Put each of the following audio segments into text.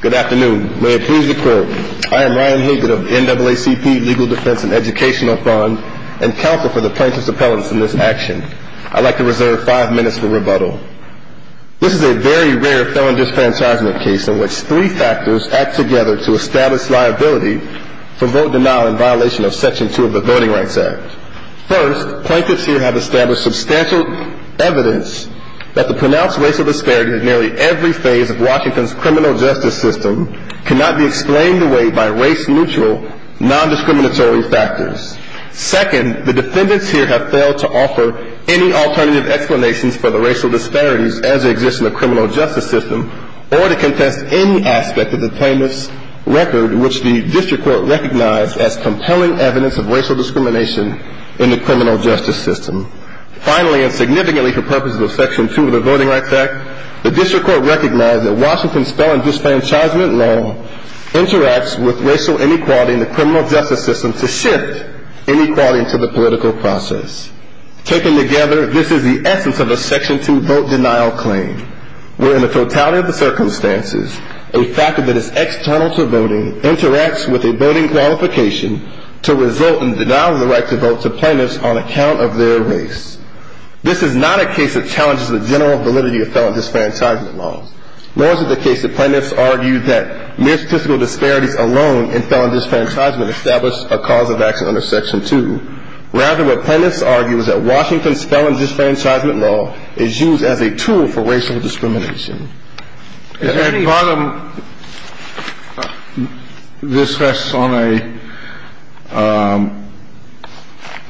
Good afternoon. May it please the Court, I am Ryan Higgin of the NAACP Legal Defense and Educational Fund and counsel for the Plaintiff's Appellants in this action. I'd like to reserve five minutes for rebuttal. This is a very rare felon disenfranchisement case in which three factors act together to establish liability for vote denial in violation of Section 2 of the Voting Rights Act. First, plaintiffs here have established substantial evidence that the pronounced racial disparity in nearly every phase of Washington's criminal justice system cannot be explained away by race-neutral, non-discriminatory factors. Second, the defendants here have failed to offer any alternative explanations for the racial disparities as they exist in the criminal justice system or to contest any aspect of the plaintiff's record which the District Court recognized as compelling evidence of racial discrimination in the criminal justice system. Finally, and significantly for purposes of Section 2 of the Voting Rights Act, the District Court recognized that Washington's felon disenfranchisement law interacts with racial inequality in the criminal justice system to shift inequality into the political process. Taken together, this is the essence of a Section 2 vote denial claim, where in the totality of the circumstances, a factor that is external to voting interacts with a voting qualification to result in denial of the right to vote to plaintiffs on account of their race. This is not a case that challenges the general validity of felon disenfranchisement law. Nor is it the case that plaintiffs argue that mere statistical disparities alone in felon disenfranchisement establish a cause of action under Section 2. Rather, what plaintiffs argue is that Washington's felon disenfranchisement law is used as a tool for racial discrimination. Your Honor, this rests on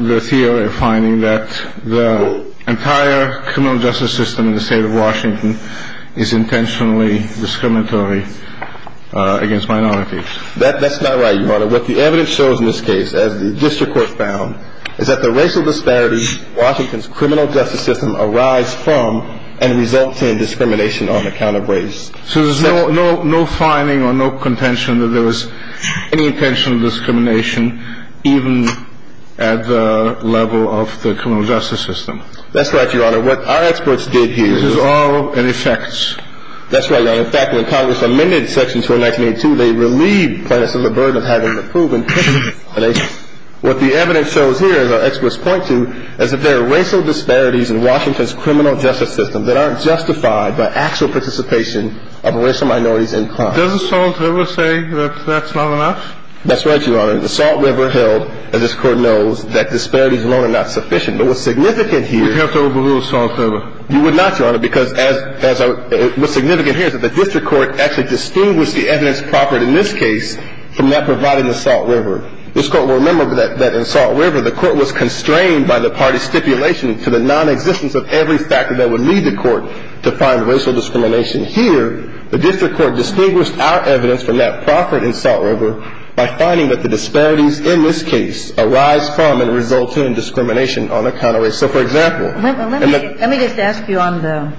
the theory of finding that the entire criminal justice system in the state of Washington is intentionally discriminatory against minorities. That's not right, Your Honor. What the evidence shows in this case, as the District Court found, is that the racial disparities Washington's criminal justice system arise from and result in discrimination on account of race. So there's no finding or no contention that there was any intentional discrimination even at the level of the criminal justice system? That's right, Your Honor. What our experts did here is… This is all an effect. That's right, Your Honor. In fact, when Congress amended Section 2 in 1982, they relieved plaintiffs of the burden of having to prove intentional discrimination. What the evidence shows here, as our experts point to, is that there are racial disparities in Washington's criminal justice system that aren't justified by actual participation of racial minorities in crime. Doesn't Salt River say that that's not enough? That's right, Your Honor. The Salt River held, as this Court knows, that disparities alone are not sufficient. But what's significant here… We'd have to overrule Salt River. You would not, Your Honor, because what's significant here is that the District Court actually distinguished the evidence proffered in this case from that provided in the Salt River. This Court will remember that in Salt River, the Court was constrained by the party's stipulation to the nonexistence of every factor that would lead the Court to find racial discrimination. Here, the District Court distinguished our evidence from that proffered in Salt River by finding that the disparities in this case arise from and result in discrimination on account of race. So for example… Let me just ask you on the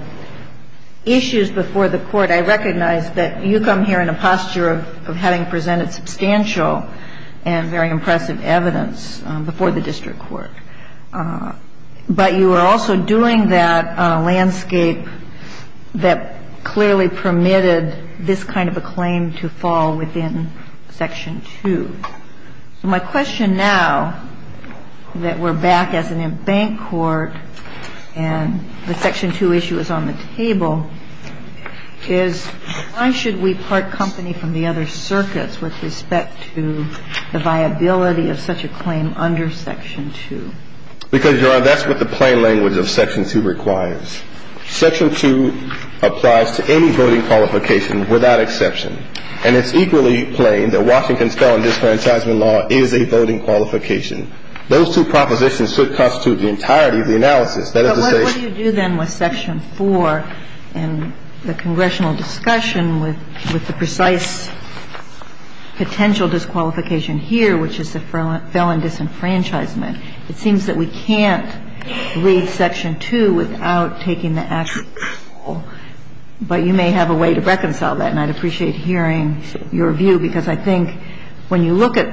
issues before the Court. I recognize that you come here in a posture of having presented substantial and very impressive evidence before the District Court. But you are also doing that on a landscape that clearly permitted this kind of a claim to fall within Section 2. My question now, that we're back as an embanked Court and the Section 2 issue is on the table, is why should we part company from the other circuits with respect to the viability of such a claim under Section 2? Because, Your Honor, that's what the plain language of Section 2 requires. Section 2 applies to any voting qualification without exception. And it's equally plain that Washington's felon disenfranchisement law is a voting qualification. Those two propositions should constitute the entirety of the analysis. That is to say… But what do you do then with Section 4 and the congressional discussion with the precise potential disqualification here, which is the felon disenfranchisement? It seems that we can't read Section 2 without taking the actual control, but you may have a way to reconcile that. And I'd appreciate hearing your view, because I think when you look at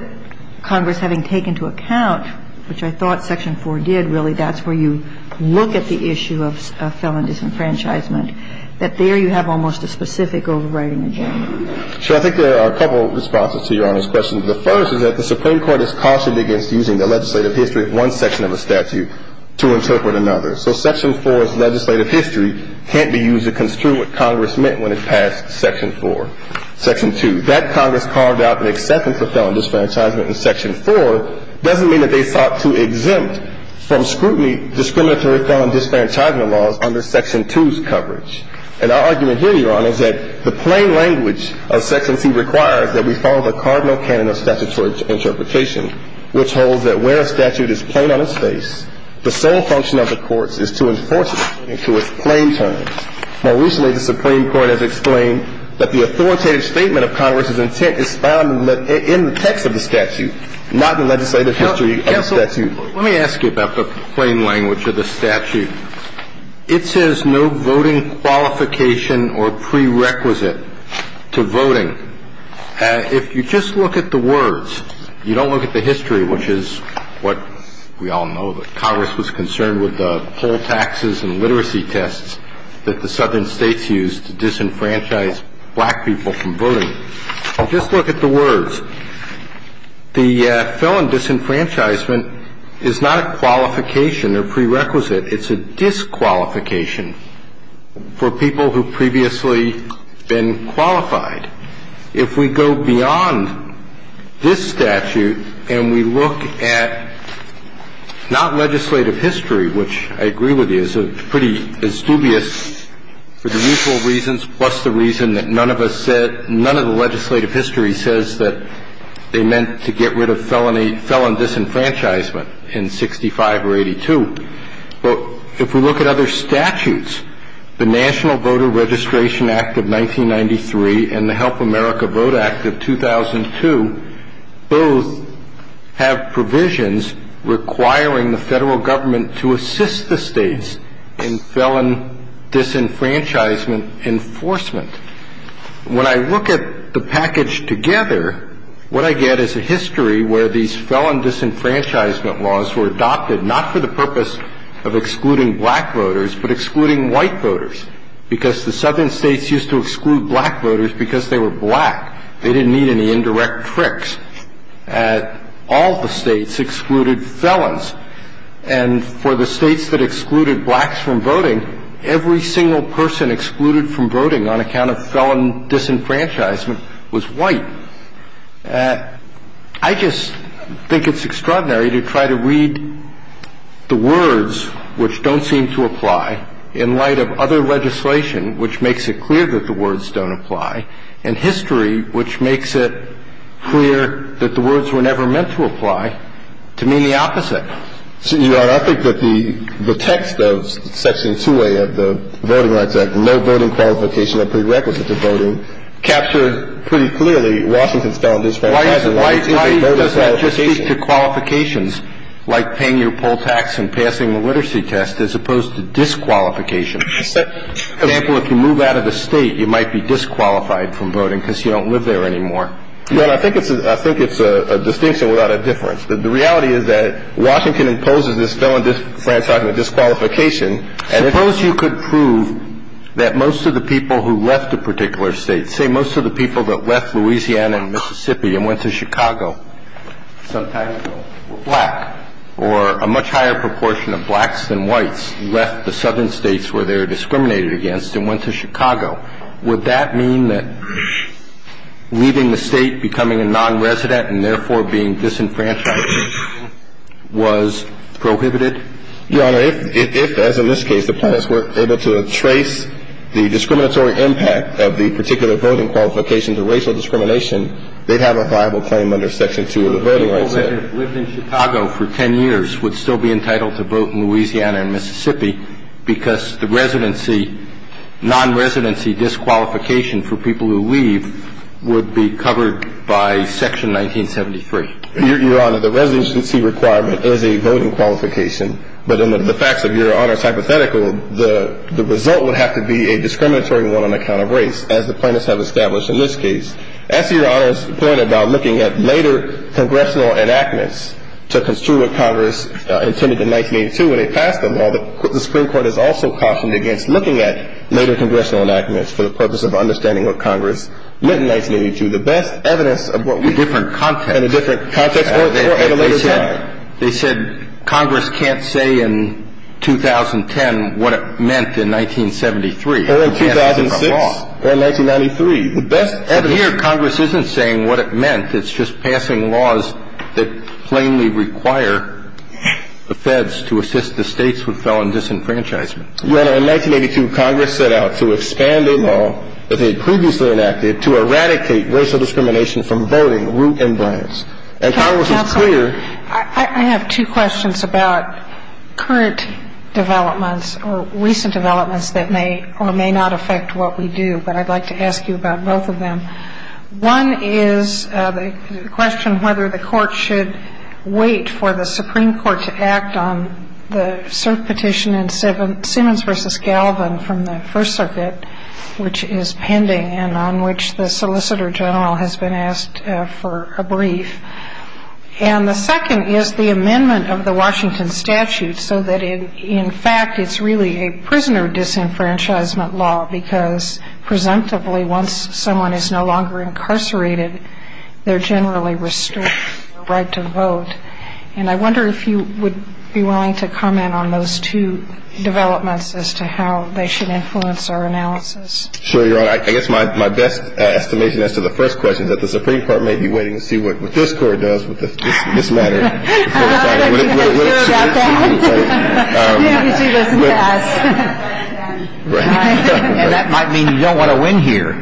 Congress having taken into account, which I thought Section 4 did, really, that's where you look at the issue of felon disenfranchisement, that there you have almost a specific overriding agenda. So I think there are a couple responses to Your Honor's question. The first is that the Supreme Court is cautioned against using the legislative history of one section of a statute to interpret another. So Section 4's legislative history can't be used to construe what Congress meant when it passed Section 4. Section 2, that Congress carved out an acceptance of felon disenfranchisement in Section 4 doesn't mean that they sought to exempt from scrutiny discriminatory felon disenfranchisement laws under Section 2's coverage. And our argument here, Your Honor, is that the plain language of Section 2 requires that we follow the cardinal canon of statutory interpretation, which holds that where a statute is plain on its face, the sole function of the courts is to enforce it in its plain terms. More recently, the Supreme Court has explained that the authoritative statement of Congress's intent is found in the text of the statute, not in the legislative history of the statute. Let me ask you about the plain language of the statute. It says no voting qualification or prerequisite to voting. If you just look at the words, you don't look at the history, which is what we all know that Congress was concerned with the poll taxes and literacy tests that the southern states used to disenfranchise black people from voting. Just look at the words. The felon disenfranchisement is not a qualification or prerequisite. It's a disqualification for people who have previously been qualified. If we go beyond this statute and we look at not legislative history, which I agree with you, it's pretty dubious for the usual reasons, plus the reason that none of us said, none of the legislative history says that they meant to get rid of felon disenfranchisement in 65 or 82. But if we look at other statutes, the National Voter Registration Act of 1993 and the Help America Vote Act of 2002 both have provisions requiring the federal government to assist the states in felon disenfranchisement enforcement. When I look at the package together, what I get is a history where these felon disenfranchisement laws were adopted, not for the purpose of excluding black voters, but excluding white voters, because the southern states used to exclude black voters because they were black. They didn't need any indirect tricks. All the states excluded felons. And for the states that excluded blacks from voting, every single person excluded from voting on account of felon disenfranchisement was white. I just think it's extraordinary to try to read the words which don't seem to apply in light of other legislation which makes it clear that the words don't apply. And history which makes it clear that the words were never meant to apply to mean the opposite. Your Honor, I think that the text of Section 2A of the Voting Rights Act, no voting qualification or prerequisite to voting, captured pretty clearly Washington's felon disenfranchisement. Why does that just speak to qualifications like paying your poll tax and passing the literacy test as opposed to disqualification? For example, if you move out of the state, you might be disqualified from voting because you don't live there anymore. Your Honor, I think it's a distinction without a difference. The reality is that Washington imposes this felon disenfranchisement disqualification. Suppose you could prove that most of the people who left a particular state, say most of the people that left Louisiana and Mississippi and went to Chicago some time ago were black, or a much higher proportion of blacks than whites left the southern states where they were discriminated against and went to Chicago. Would that mean that leaving the state, becoming a nonresident, and therefore being disenfranchised was prohibited? Your Honor, if, as in this case, the plaintiffs were able to trace the discriminatory impact of the particular voting qualifications or racial discrimination, they'd have a viable claim under Section 2 of the Voting Rights Act. The people that have lived in Chicago for 10 years would still be entitled to vote in Louisiana and Mississippi because the residency, nonresidency disqualification for people who leave would be covered by Section 1973. Your Honor, the residency requirement is a voting qualification, but in the facts of Your Honor's hypothetical, the result would have to be a discriminatory one on account of race, as the plaintiffs have established in this case. As to Your Honor's point about looking at later congressional enactments to construe what Congress intended in 1982 when they passed the law, the Supreme Court has also cautioned against looking at later congressional enactments for the purpose of understanding what Congress meant in 1982. The best evidence of what we do in a different context at a later time. They said Congress can't say in 2010 what it meant in 1973. Or in 2006 or in 1993. The best evidence. But here Congress isn't saying what it meant. It's just passing laws that plainly require the feds to assist the states with felon disenfranchisement. Your Honor, in 1982, Congress set out to expand a law that they had previously enacted to eradicate racial discrimination from voting, root and branch. And Congress is clear. Counsel, I have two questions about current developments or recent developments that may or may not affect what we do. But I'd like to ask you about both of them. One is the question whether the Court should wait for the Supreme Court to act on the cert petition in Simmons v. Galvin from the First Circuit, which is pending and on which the Solicitor General has been asked for a brief. And the second is the amendment of the Washington statute so that in fact it's really a prisoner disenfranchisement law because presumptively once someone is no longer incarcerated, they're generally restricted their right to vote. And I wonder if you would be willing to comment on those two developments as to how they should influence our analysis. Sure, Your Honor. I guess my best estimation as to the first question is that the Supreme Court may be waiting to see what this Court does with this matter. I don't know what you can do about that. Maybe she doesn't ask. And that might mean you don't want to win here.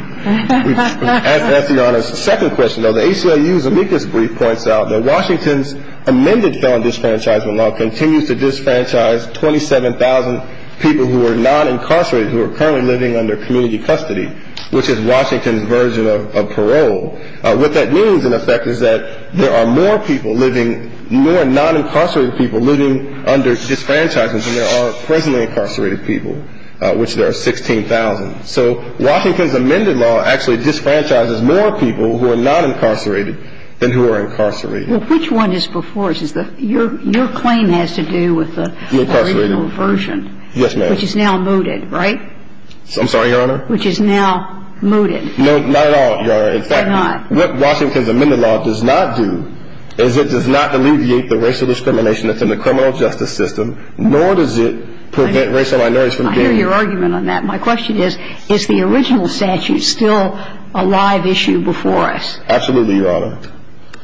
That's the Honor's second question. The ACLU's amicus brief points out that Washington's amended felon disenfranchisement law continues to disenfranchise 27,000 people who are non-incarcerated who are currently living under community custody, which is Washington's version of parole. What that means, in effect, is that there are more people living, more non-incarcerated people living under disenfranchisement than there are presently incarcerated people, which there are 16,000. So Washington's amended law actually disenfranchises more people who are non-incarcerated than who are incarcerated. Well, which one is before us? Your claim has to do with the original version. Yes, ma'am. Which is now mooted, right? I'm sorry, Your Honor? Which is now mooted. No, not at all, Your Honor. In fact, what Washington's amended law does not do is it does not alleviate the racial discrimination that's in the criminal justice system, nor does it prevent racial minorities from being... I hear your argument on that. My question is, is the original statute still a live issue before us? Absolutely, Your Honor.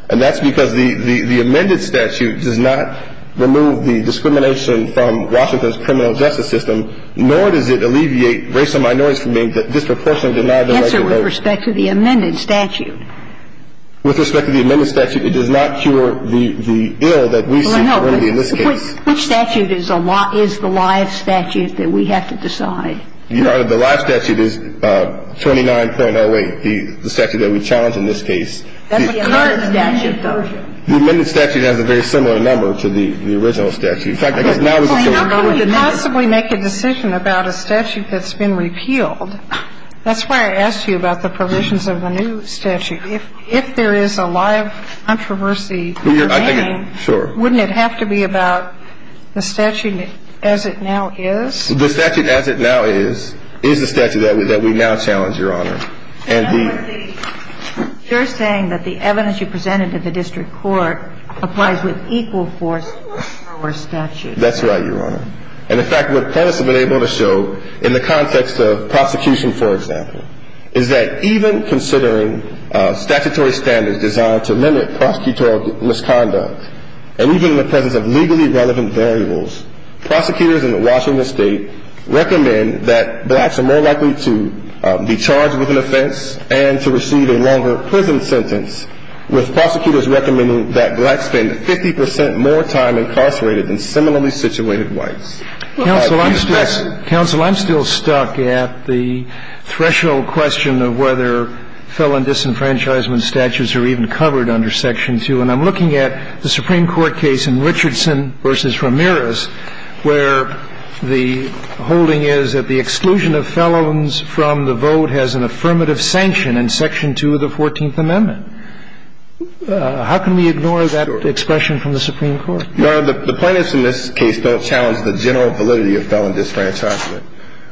And that's because the amended statute does not remove the discrimination from Washington's criminal justice system, and the original statute does not remove the discrimination from Washington's criminal justice system. So the original statute does not remove the discrimination from Washington's criminal justice system. That's the answer with respect to the amended statute. With respect to the amended statute, it does not cure the ill that we see. Well, no. Which statute is the live statute that we have to decide? Your Honor, the live statute is 29.08, the statute that we challenge in this case. That's the amended statute, though. The amended statute has a very similar number to the original statute. In fact, I guess now... Well, how can we possibly make a decision about a statute that's been repealed? That's why I asked you about the provisions of the new statute. If there is a live controversy... Sure. Wouldn't it have to be about the statute as it now is? The statute as it now is, is the statute that we now challenge, Your Honor. And the... You're saying that the evidence you presented to the district court applies with equal force to our statute. That's right, Your Honor. And in fact, what the plaintiffs have been able to show in the context of prosecution, for example, is that even considering statutory standards designed to limit prosecutorial misconduct, and even in the presence of legally relevant variables, prosecutors in Washington State recommend that blacks are more likely to be charged with an offense and to receive a longer prison sentence, with prosecutors recommending that blacks spend 50 percent more time incarcerated than similarly situated whites. Counsel, I'm still... Counsel, I'm still stuck at the threshold question of whether felon disenfranchisement statutes are even covered under Section 2. And I'm looking at the Supreme Court case in Richardson v. Ramirez, where the holding is that the exclusion of felons from the vote has an affirmative sanction in Section 2 of the Fourteenth Amendment. How can we ignore that expression from the Supreme Court? Your Honor, the plaintiffs in this case don't challenge the general validity of felon disenfranchisement.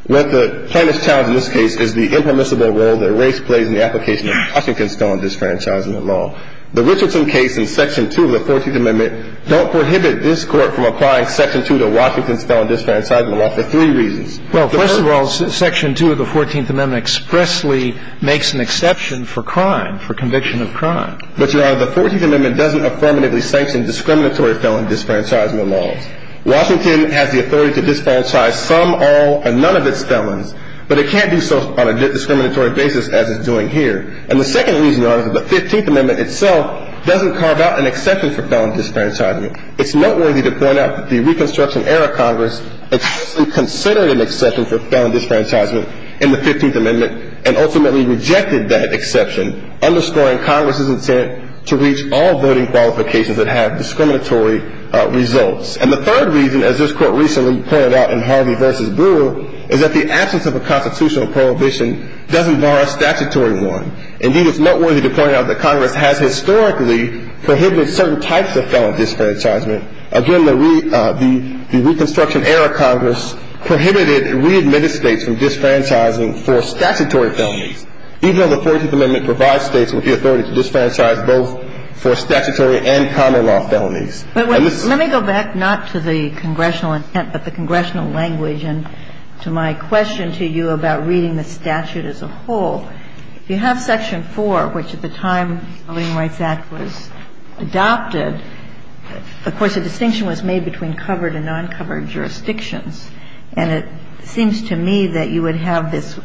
What the plaintiffs challenge in this case is the impermissible role that race plays in the application of Washington's felon disenfranchisement law. The Richardson case in Section 2 of the Fourteenth Amendment don't prohibit this Court from applying Section 2 to Washington's felon disenfranchisement law for three reasons. Well, first of all, Section 2 of the Fourteenth Amendment expressly makes an exception for crime, for conviction of crime. But, Your Honor, the Fourteenth Amendment doesn't affirmatively sanction discriminatory felon disenfranchisement laws. Washington has the authority to disenfranchise some, all, and none of its felons, but it can't do so on a discriminatory basis as it's doing here. And the second reason, Your Honor, is that the Fifteenth Amendment itself doesn't carve out an exception for felon disenfranchisement. It's noteworthy to point out that the Reconstruction-era Congress explicitly considered an exception for felon disenfranchisement in the Fifteenth Amendment and ultimately rejected that exception, underscoring Congress's intent to reach all voting qualifications that have discriminatory results. And the third reason, as this Court recently pointed out in Harvey v. Brewer, is that the absence of a constitutional prohibition doesn't bar a statutory one. Indeed, it's noteworthy to point out that Congress has historically prohibited certain types of felon disenfranchisement. Again, the Reconstruction-era Congress prohibited readmitted States from disenfranchising for statutory felonies, even though the Fourteenth Amendment provides States with the authority to disenfranchise both for statutory and common-law felonies. But let me go back not to the congressional intent but the congressional language and to my question to you about reading the statute as a whole. If you have Section 4, which at the time the Voting Rights Act was adopted, of course, a distinction was made between covered and non-covered jurisdictions. And it seems to me that you would have this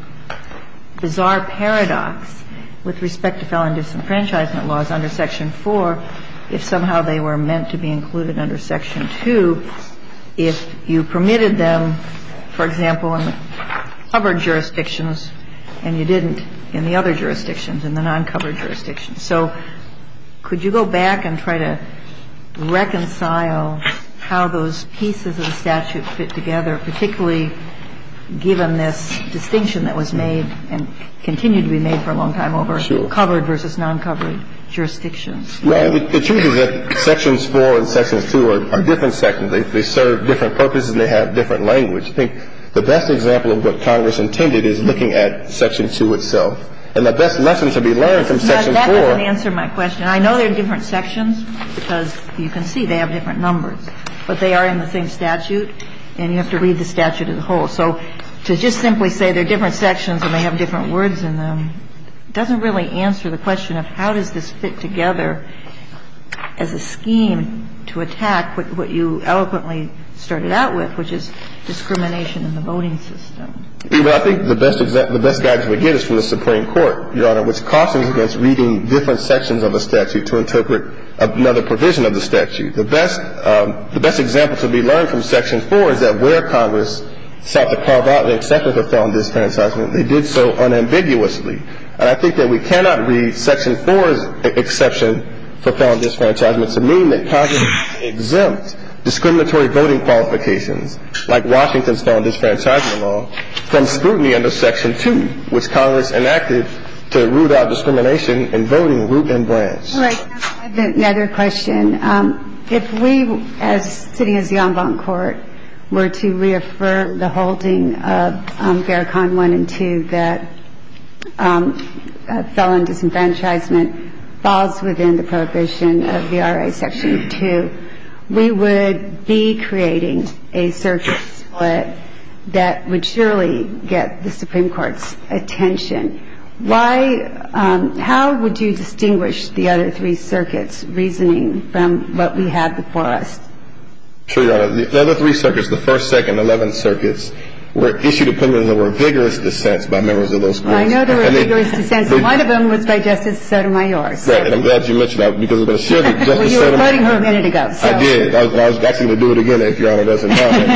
bizarre paradox with respect to felon disenfranchisement laws under Section 4 if somehow they were meant to be included under Section 2 if you permitted them, for example, in the covered jurisdictions and you didn't in the other jurisdictions, in the non-covered jurisdictions. So could you go back and try to reconcile how those pieces of the statute fit together, particularly given this distinction that was made and continued to be made for a long time over covered versus non-covered jurisdictions? Well, the truth is that Sections 4 and Sections 2 are different sections. They serve different purposes and they have different language. I think the best example of what Congress intended is looking at Section 2 itself. And the best lesson to be learned from Section 4. That doesn't answer my question. I know they're different sections because you can see they have different numbers, but they are in the same statute and you have to read the statute as a whole. So to just simply say they're different sections and they have different words in them doesn't really answer the question of how does this fit together as a scheme to attack what you eloquently started out with, which is discrimination in the voting system. Well, I think the best example, the best guidance we get is from the Supreme Court, Your Honor, which cautioned against reading different sections of the statute to interpret another provision of the statute. The best example to be learned from Section 4 is that where Congress sought to carve out and accept the felon disenfranchisement, they did so unambiguously. And I think that we cannot read Section 4's exception for felon disenfranchisement to mean that Congress exempt discriminatory voting qualifications, like Washington's felon disenfranchisement law, from scrutiny under Section 2, which Congress enacted to root out discrimination in voting root and branch. All right. I have another question. If we, as sitting as the en banc court, were to reaffirm the holding of Vericon 1 and 2 that felon disenfranchisement falls within the prohibition of the RA Section 2, we would be creating a circuit split that would surely get the Supreme Court's attention. I mean, if the statute is in the RA Section 2, then it would be a little bit harder If the statute is in the RA Section 2, then it would be a little bit harder to get the Supreme Court's attention. But the question is, with respect to the following section, how would you distinguish the other three circuits' reasoning from what we have before us? Sure, Your Honor. The other three circuits, the 1st, 2nd, 11th circuits, were issued opinions that were vigorous dissents by members of those courts. I know they were vigorous dissents. And one of them was by Justice Sotomayor. Right. And I'm glad you mentioned that because I was going to share that with Justice Sotomayor. Well, you were quoting her a minute ago. I did. I was actually going to do it again if Your Honor doesn't mind.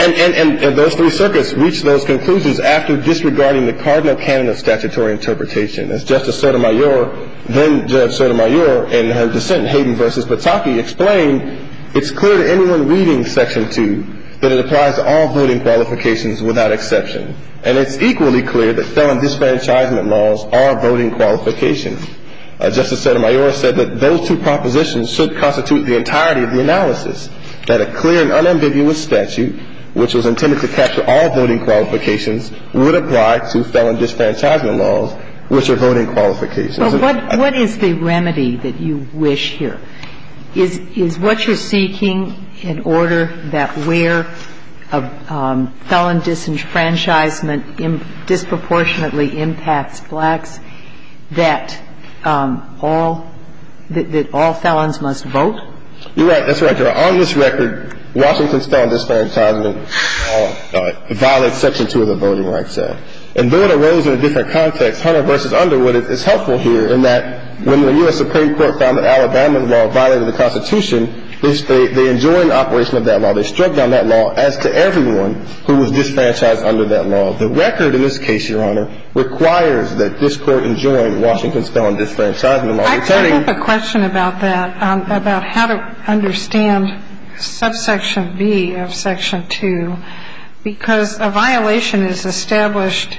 And those three circuits reached those conclusions after disregarding the cardinal canon of statutory interpretation. As Justice Sotomayor, then Judge Sotomayor, in her dissent, Hayden v. Pataki, explained, it's clear to anyone reading Section 2 that it applies to all voting qualifications without exception. And it's equally clear that felon disenfranchisement laws are voting qualifications. Justice Sotomayor said that those two propositions should constitute the entirety of the analysis, that a clear and unambiguous statute, which was intended to capture all voting qualifications, would apply to felon disenfranchisement laws, which are voting qualifications. But what is the remedy that you wish here? Is what you're seeking an order that where a felon disenfranchisement disproportionately impacts blacks, that all felons must vote? That's right, Your Honor. Now, on this record, Washington's felon disenfranchisement law violates Section 2 of the Voting Rights Act. And though it arose in a different context, Hunter v. Underwood, it's helpful here in that when the U.S. Supreme Court found that Alabama's law violated the Constitution, they enjoined operation of that law. They struck down that law as to everyone who was disenfranchised under that law. The record in this case, Your Honor, requires that this Court enjoin Washington's felon disenfranchisement law. I do have a question about that, about how to understand subsection B of Section 2, because a violation is established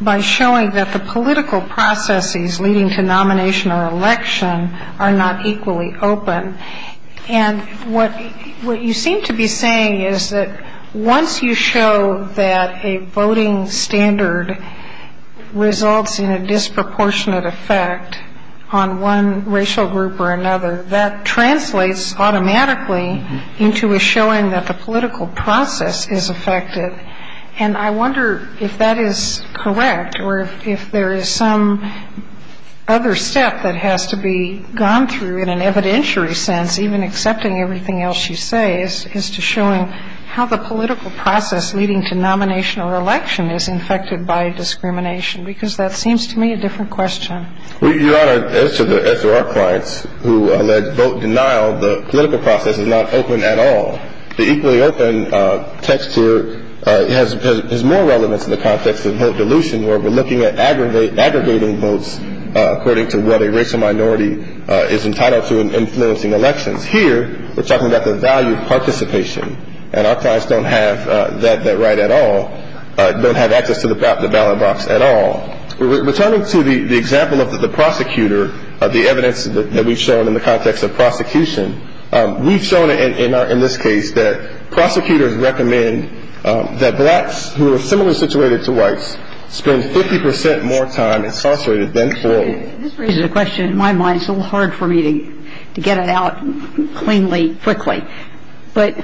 by showing that the political processes leading to nomination or election are not equally open. And what you seem to be saying is that once you show that a voting standard results in a disproportionate effect on one racial group or another, that translates automatically into a showing that the political process is affected. And I wonder if that is correct or if there is some other step that has to be gone through in an evidentiary sense, even accepting everything else you say, as to showing how the political process leading to nomination or election is infected by discrimination, because that seems to me a different question. Well, Your Honor, as to our clients who allege vote denial, the political process is not open at all. The equally open text here has more relevance in the context of vote dilution, where we're looking at aggregating votes according to what a racial minority is entitled to in influencing elections. Here, we're talking about the value of participation, and our clients don't have that right at all, don't have access to the ballot box at all. Returning to the example of the prosecutor, the evidence that we've shown in the context of prosecution, we've shown in this case that prosecutors recommend that blacks who are similarly situated to whites spend 50 percent more time incarcerated than poor. This raises a question in my mind. It's a little hard for me to get it out cleanly, quickly. But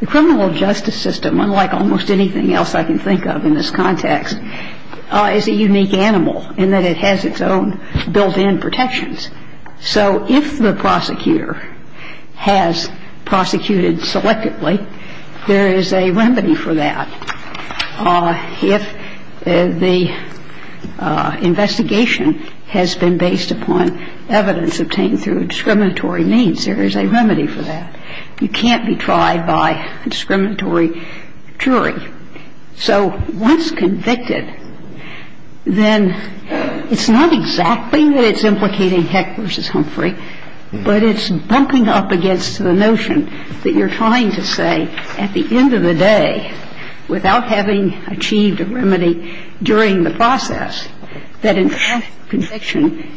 the criminal justice system, unlike almost anything else I can think of in this context, is a unique animal in that it has its own built-in protections. So if the prosecutor has prosecuted selectively, there is a remedy for that. If the investigation has been based upon evidence obtained through discriminatory means, there is a remedy for that. You can't be tried by a discriminatory jury. So once convicted, then it's not exactly that it's implicating Heck v. Humphrey, but it's bumping up against the notion that you're trying to say at the end of the day, without having achieved a remedy during the process, that in fact conviction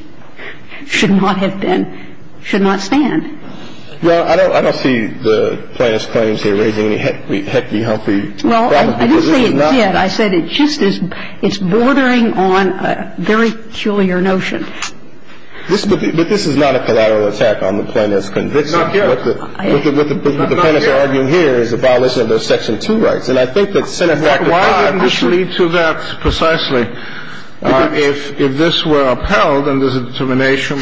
should not have been, should not stand. Well, I don't see the plaintiff's claims here raising any Heck v. Humphrey. Well, I didn't say it did. I said it just is, it's bordering on a very peculiar notion. But this is not a collateral attack on the plaintiff's conviction. I'm not here. What the plaintiffs are arguing here is a violation of those Section 2 rights. And I think that Senate Act of 19- Why wouldn't this lead to that precisely? If this were upheld and there's a determination,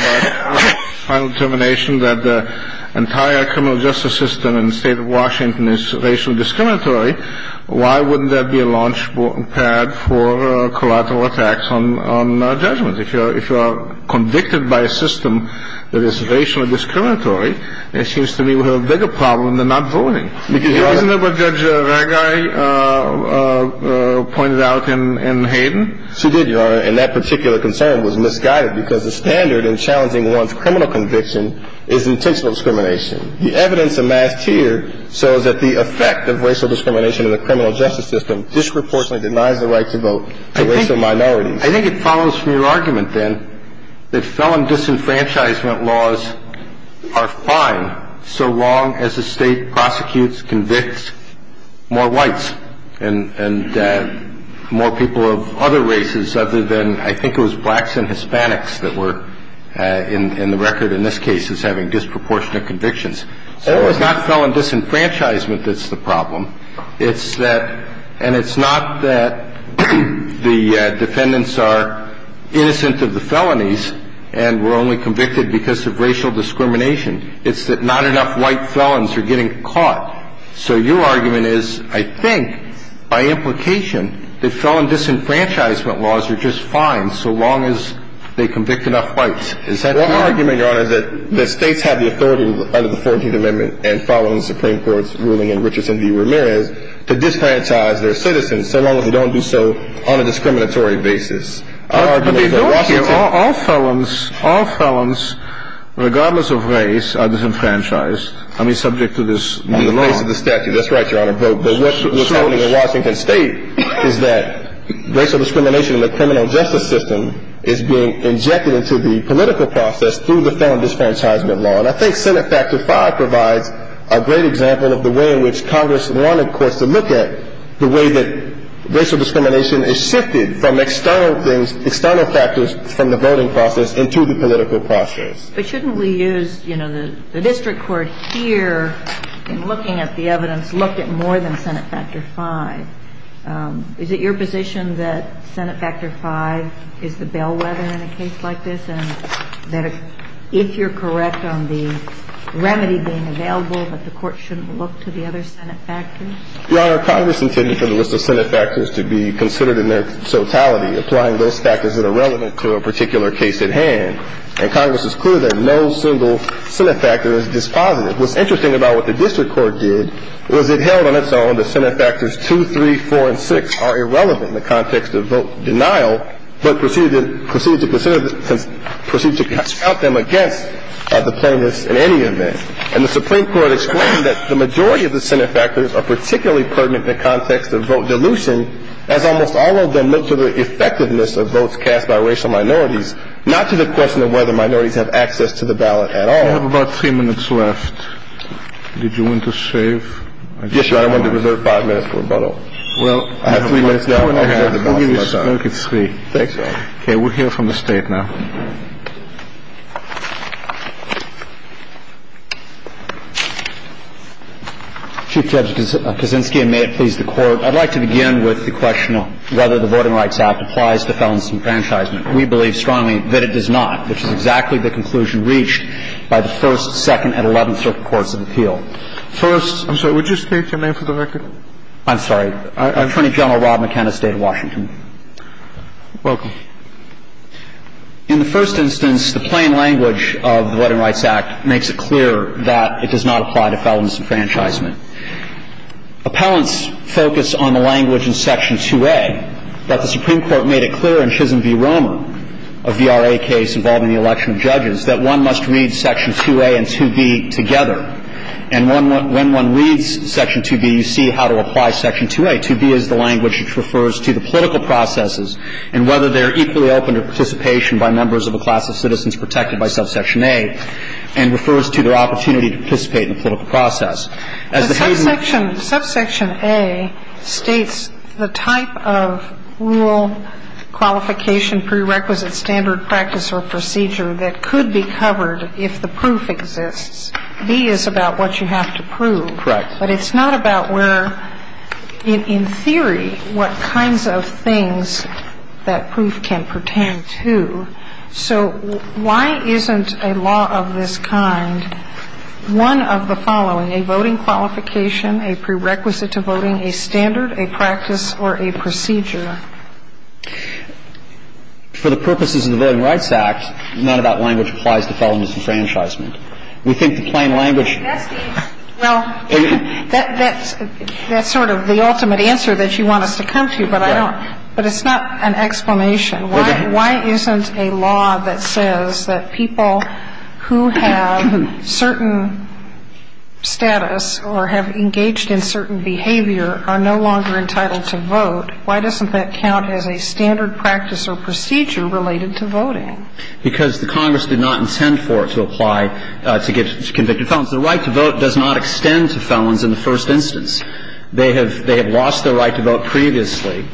final determination, that the entire criminal justice system in the State of Washington is racially discriminatory, why wouldn't there be a launch pad for collateral attacks on judgments? If you are convicted by a system that is racially discriminatory, it seems to me we have a bigger problem than not voting. Isn't that what Judge Ragai pointed out in Hayden? She did, Your Honor. And that particular concern was misguided because the standard in challenging one's criminal conviction is intentional discrimination. The evidence amassed here shows that the effect of racial discrimination in the criminal justice system disproportionately denies the right to vote to racial minorities. I think it follows from your argument, then, that felon disenfranchisement laws are fine so long as the State prosecutes, convicts more whites and more people of other races other than I think it was blacks and Hispanics that were in the record in this case as having disproportionate convictions. So it's not felon disenfranchisement that's the problem. It's that – and it's not that the defendants are innocent of the felonies and were only convicted because of racial discrimination. It's that not enough white felons are getting caught. So your argument is, I think, by implication, that felon disenfranchisement laws are just fine so long as they convict enough whites. Is that true? My argument, Your Honor, is that the States have the authority under the 14th Amendment and following the Supreme Court's ruling in Richardson v. Ramirez to disenfranchise their citizens so long as they don't do so on a discriminatory basis. But they don't here. All felons, all felons, regardless of race, are disenfranchised. I mean, subject to this law. On the basis of the statute. That's right, Your Honor. But what's happening in Washington State is that racial discrimination in the criminal justice system is being injected into the political process through the felon disenfranchisement law. And I think Senate Factor V provides a great example of the way in which Congress wanted, of course, to look at the way that racial discrimination is shifted from external things, external factors from the voting process into the political process. But shouldn't we use, you know, the district court here in looking at the evidence, look at more than Senate Factor V? Is it your position that Senate Factor V is the bellwether in a case like this and that if you're correct on the remedy being available, that the Court shouldn't look to the other Senate factors? Your Honor, Congress intended for the list of Senate factors to be considered in their totality, applying those factors that are relevant to a particular case at hand. And Congress is clear that no single Senate factor is dispositive. What's interesting about what the district court did was it held on its own that Senate factors 2, 3, 4, and 6 are irrelevant in the context of vote denial, but proceeded to consider them against the plaintiffs in any event. And the Supreme Court explained that the majority of the Senate factors are particularly pertinent in the context of vote dilution, as almost all of them look to the effectiveness of votes cast by racial minorities, not to the question of whether minorities have access to the ballot at all. We have about three minutes left. Did you want to save? Yes, Your Honor. I wanted to reserve five minutes for rebuttal. Well, I have three minutes now. I'm sorry, Your Honor. I'm going to give you a spoke, it's free. Thanks, Your Honor. Okay. We'll hear from the State now. Chief Judge Kaczynski, and may it please the Court. I'd like to begin with the question of whether the Voting Rights Act applies to felon disenfranchisement. We believe strongly that it does not, which is exactly the conclusion reached by the first, second, and eleventh circuit courts of appeal. First — Would you state your name for the record? I'm sorry. Attorney General Rob McKenna, State of Washington. Welcome. In the first instance, the plain language of the Voting Rights Act makes it clear that it does not apply to felon disenfranchisement. Appellants focus on the language in Section 2A, but the Supreme Court made it clear in Chisholm v. Romer, a VRA case involving the election of judges, that one must read Section 2A and 2B together. And when one reads Section 2B, you see how to apply Section 2A. 2B is the language which refers to the political processes and whether they are equally open to participation by members of a class of citizens protected by Subsection A, and refers to their opportunity to participate in a political process. As the case of the — But Subsection — Subsection A states the type of rule, qualification, prerequisite standard, practice or procedure that could be covered if the proof exists. B is about what you have to prove. Correct. But it's not about where — in theory, what kinds of things that proof can pertain to. So why isn't a law of this kind one of the following, a voting qualification, a prerequisite to voting, a standard, a practice or a procedure? For the purposes of the Voting Rights Act, none of that language applies to felonious enfranchisement. We think the plain language — Well, that's sort of the ultimate answer that you want us to come to, but I don't — but it's not an explanation. Why isn't a law that says that people who have certain status or have engaged in certain behavior are no longer entitled to vote, why doesn't that count as a standard practice or procedure related to voting? Because the Congress did not intend for it to apply to convicted felons. The right to vote does not extend to felons in the first instance. They have lost their right to vote previously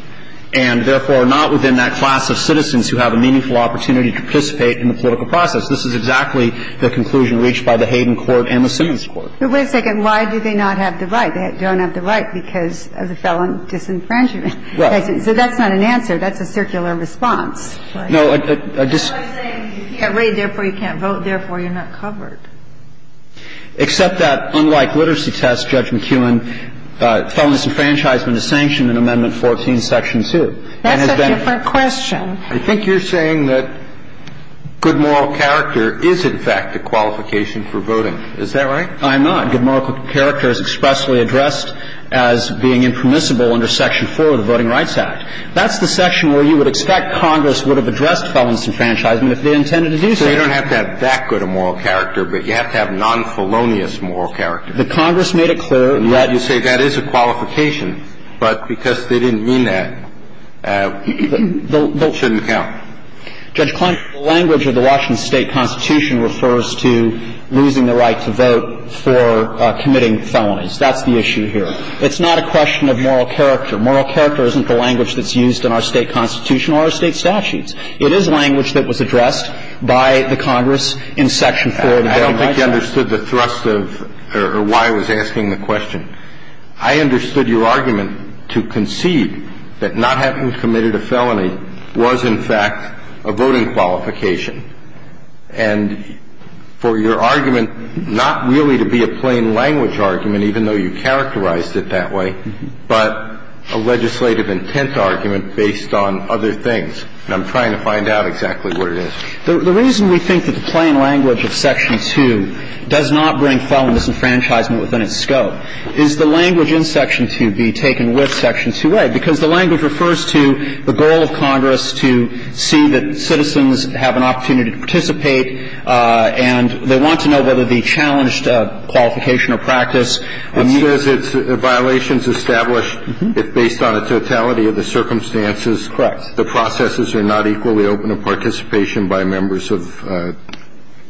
and, therefore, are not within that class of citizens who have a meaningful opportunity to participate in the political process. This is exactly the conclusion reached by the Hayden Court and the Simmons Court. But wait a second. Why do they not have the right? They don't have the right because of the felon disenfranchisement. Right. So that's not an answer. That's a circular response. No, I just — That's what I'm saying. You can't read, therefore you can't vote, therefore you're not covered. Except that, unlike literacy tests, Judge McKeown, felonious enfranchisement is sanctioned in Amendment 14, Section 2. That's a different question. I think you're saying that good moral character is, in fact, a qualification for voting. Is that right? I'm not. Good moral character is expressly addressed as being impermissible under Section 4 of the Voting Rights Act. That's the section where you would expect Congress would have addressed felon disenfranchisement if they intended to do so. So you don't have to have that good a moral character, but you have to have non-felonious moral character. The Congress made it clear that — You say that is a qualification, but because they didn't mean that, it shouldn't count. Judge Clement, the language of the Washington State Constitution refers to losing the right to vote for committing felonies. That's the issue here. It's not a question of moral character. Moral character isn't the language that's used in our State Constitution or our State statutes. It is language that was addressed by the Congress in Section 4 of the Voting Rights Act. I don't think you understood the thrust of — or why I was asking the question. I understood your argument to concede that not having committed a felony was, in fact, a voting qualification, and for your argument not really to be a plain language argument, even though you characterized it that way, but a legislative intent argument based on other things. And I'm trying to find out exactly what it is. The reason we think that the plain language of Section 2 does not bring felon disenfranchisement within its scope is the language in Section 2 be taken with Section 2a, because the language refers to the goal of Congress to see that citizens have an opportunity to participate, and they want to know whether the challenged qualification or practice. It says it's violations established if based on a totality of the circumstances. Correct. The processes are not equally open to participation by members of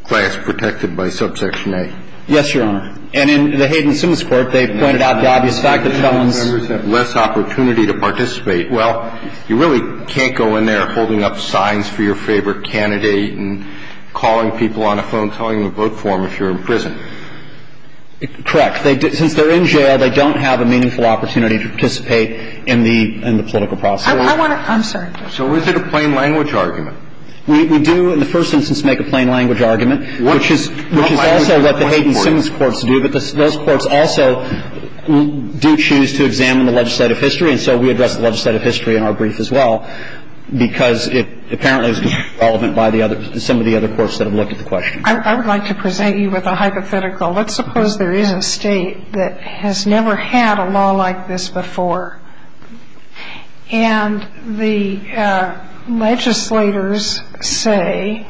class protected by Subsection A. Yes, Your Honor. And in the Hayden-Simmons Court, they pointed out the obvious fact that felons have less opportunity to participate. Well, you really can't go in there holding up signs for your favorite candidate and calling people on a phone, telling them to vote for them if you're in prison. Correct. Since they're in jail, they don't have a meaningful opportunity to participate in the political process. I want to – I'm sorry. So is it a plain language argument? And so we address the legislative history in our brief as well, because it apparently is relevant by some of the other courts that have looked at the question. I would like to present you with a hypothetical. Let's suppose there is a state that has never had a law like this before, and the legislators say,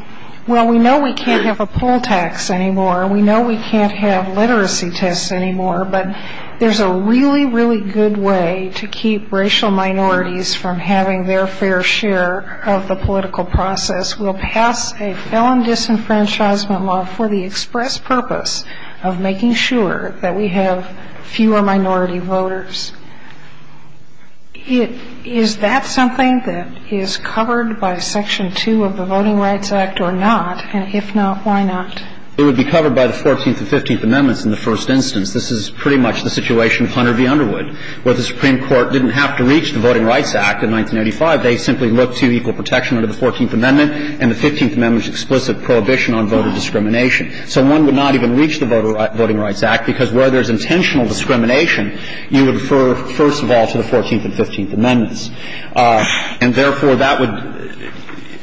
well, we know we can't have a poll tax anymore, we know we can't have literacy tests anymore, but there's a really, really good way to keep racial minorities from having their fair share of the political process. We'll pass a felon disenfranchisement law for the express purpose of making sure that we have fewer minority voters. Is that something that is covered by Section 2 of the Voting Rights Act or not? And if not, why not? It would be covered by the Fourteenth and Fifteenth Amendments in the first instance. This is pretty much the situation of Hunter v. Underwood, where the Supreme Court didn't have to reach the Voting Rights Act in 1985. They simply looked to equal protection under the Fourteenth Amendment, and the Fifteenth Amendment's explicit prohibition on voter discrimination. So one would not even reach the Voting Rights Act, because where there's intentional discrimination, you would refer, first of all, to the Fourteenth and Fifteenth Amendments. And therefore, that would,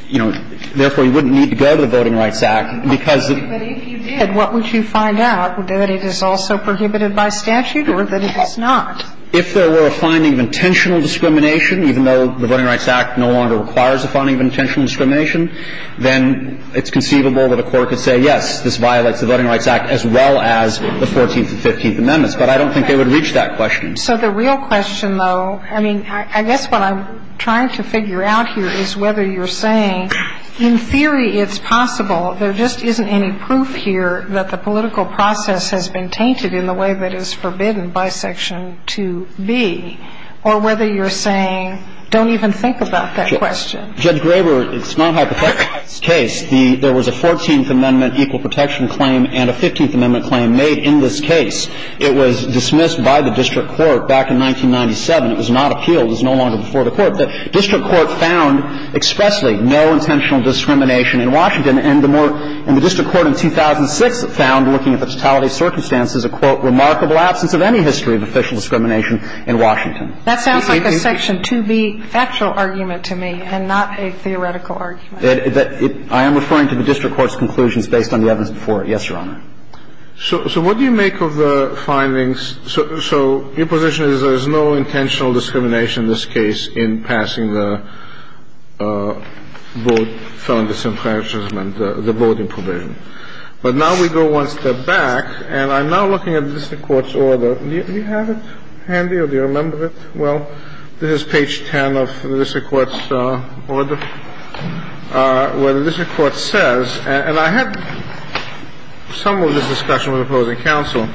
you know, therefore, you wouldn't need to go to the Voting Rights Act, because of the Fourth Amendment. But if you did, what would you find out? Would it be that it is also prohibited by statute or that it is not? If there were a finding of intentional discrimination, even though the Voting Rights Act no longer requires a finding of intentional discrimination, then it's conceivable that a court could say, yes, this violates the Voting Rights Act as well as the Fourteenth and Fifteenth Amendments. But I don't think they would reach that question. So the real question, though, I mean, I guess what I'm trying to figure out here is whether you're saying in theory it's possible, there just isn't any proof here that the political process has been tainted in the way that it's forbidden bisection to be, or whether you're saying don't even think about that question. Judge Graber, it's not hypothetical in this case. There was a Fourteenth Amendment equal protection claim and a Fifteenth Amendment claim made in this case. It was dismissed by the district court back in 1997. It was not appealed. It was no longer before the court. The district court found expressly no intentional discrimination in Washington, and the more the district court in 2006 found, looking at the totality of circumstances, a, quote, remarkable absence of any history of official discrimination in Washington. That sounds like a Section 2B factual argument to me and not a theoretical argument. I am referring to the district court's conclusions based on the evidence before it. Yes, Your Honor. So what do you make of the findings? So your position is there's no intentional discrimination in this case in passing the vote, felon disenfranchisement, the voting provision. But now we go one step back, and I'm now looking at the district court's order. Do you have it handy or do you remember it? Well, this is page 10 of the district court's order, where the district court says And I had some of this discussion with opposing counsel.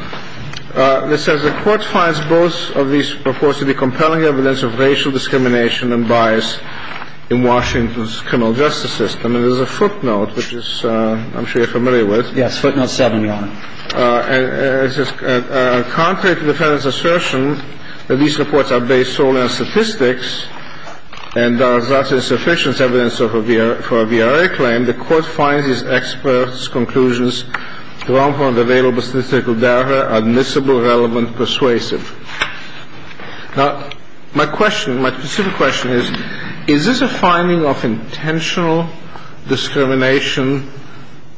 It says the court finds both of these reports to be compelling evidence of racial discrimination and bias in Washington's criminal justice system. And there's a footnote, which I'm sure you're familiar with. Yes. Footnote 7, Your Honor. It says contrary to the defendant's assertion that these reports are based solely on statistics and are thus insufficient evidence for a VRA claim, the court finds these experts' conclusions from the available statistical data admissible, relevant, persuasive. Now, my question, my specific question is, is this a finding of intentional discrimination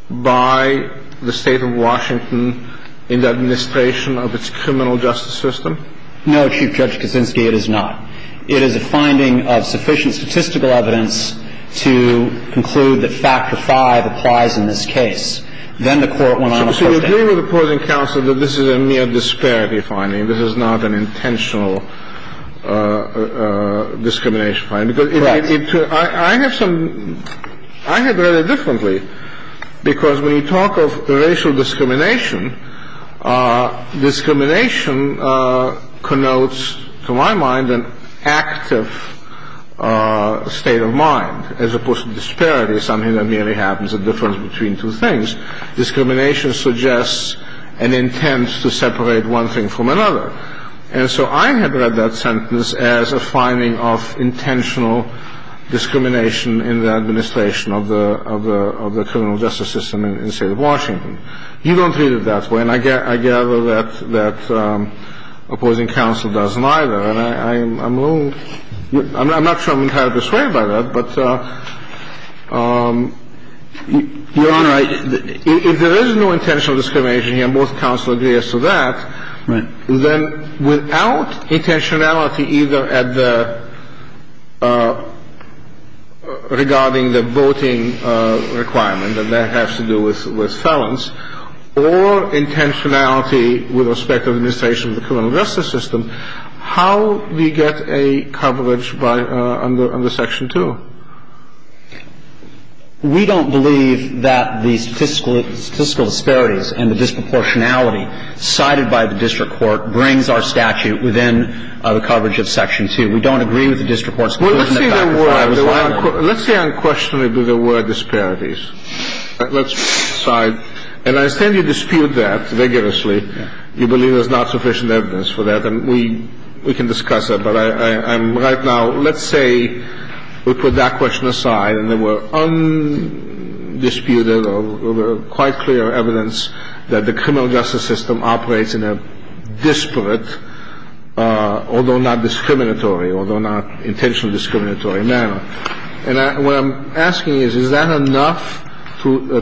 by the State of Washington in the administration of its criminal justice system? No, Chief Judge Kuczynski, it is not. It is a finding of sufficient statistical evidence to conclude that Factor V applies in this case. Then the court went on to postdate it. So you agree with opposing counsel that this is a mere disparity finding? This is not an intentional discrimination finding? Correct. I have some – I have read it differently, because when you talk of racial discrimination, discrimination connotes, to my mind, an active state of mind, as opposed to disparity, something that merely happens, a difference between two things. Discrimination suggests an intent to separate one thing from another. And so I have read that sentence as a finding of intentional discrimination in the administration of the criminal justice system in the State of Washington. You don't read it that way, and I gather that opposing counsel doesn't either. And I'm a little – I'm not sure I'm entirely persuaded by that, but, Your Honor, if there is no intentional discrimination here, and both counsel agree as to that, then without intentionality either at the – regarding the voting requirement, and that has to do with felons, or intentionality with respect to the administration of the criminal justice system, how do you get a coverage by – under Section 2? We don't believe that the statistical disparities and the disproportionality cited by the district court brings our statute within the coverage of Section 2. Well, let's say there were – let's say unquestionably there were disparities. Let's decide – and I understand you dispute that vigorously. You believe there's not sufficient evidence for that, and we can discuss it. But I'm right now – let's say we put that question aside and there were undisputed or quite clear evidence that the criminal justice system operates in a disparate, although not discriminatory, although not intentionally discriminatory, manner. And what I'm asking is, is that enough to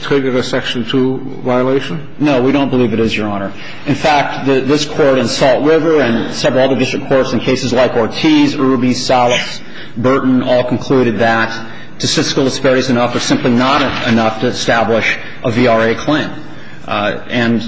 trigger a Section 2 violation? No, we don't believe it is, Your Honor. In fact, this Court in Salt River and several other district courts in cases like Ortiz, Urubi, Salas, Burton all concluded that statistical disparities are enough or simply not enough to establish a VRA claim. And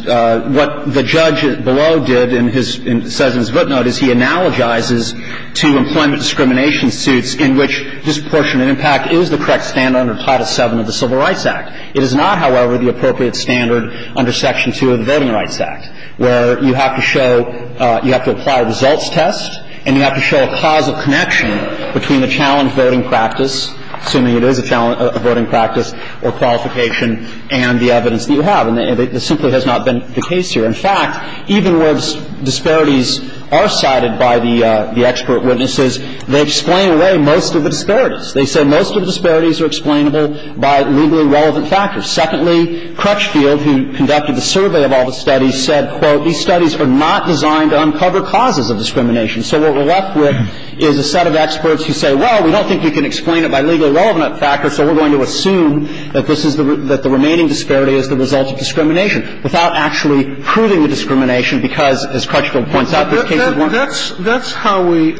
what the judge below did in his – says in his footnote is he analogizes to employment discrimination suits in which disproportionate impact is the correct standard under Title VII of the Civil Rights Act. It is not, however, the appropriate standard under Section 2 of the Voting Rights Act, where you have to show – you have to apply a results test and you have to show a causal connection between the challenge voting practice, assuming it is a challenge voting practice, or qualification and the evidence that you have. And this simply has not been the case here. In fact, even where disparities are cited by the expert witnesses, they explain away most of the disparities. They say most of the disparities are explainable by legally relevant factors. Secondly, Crutchfield, who conducted the survey of all the studies, said, quote, these studies are not designed to uncover causes of discrimination. So what we're left with is a set of experts who say, well, we don't think we can explain it by legally relevant factors, so we're going to assume that this is the – that the remaining disparity is the result of discrimination, without actually proving the discrimination, because, as Crutchfield points out, this case is one of them. That's how we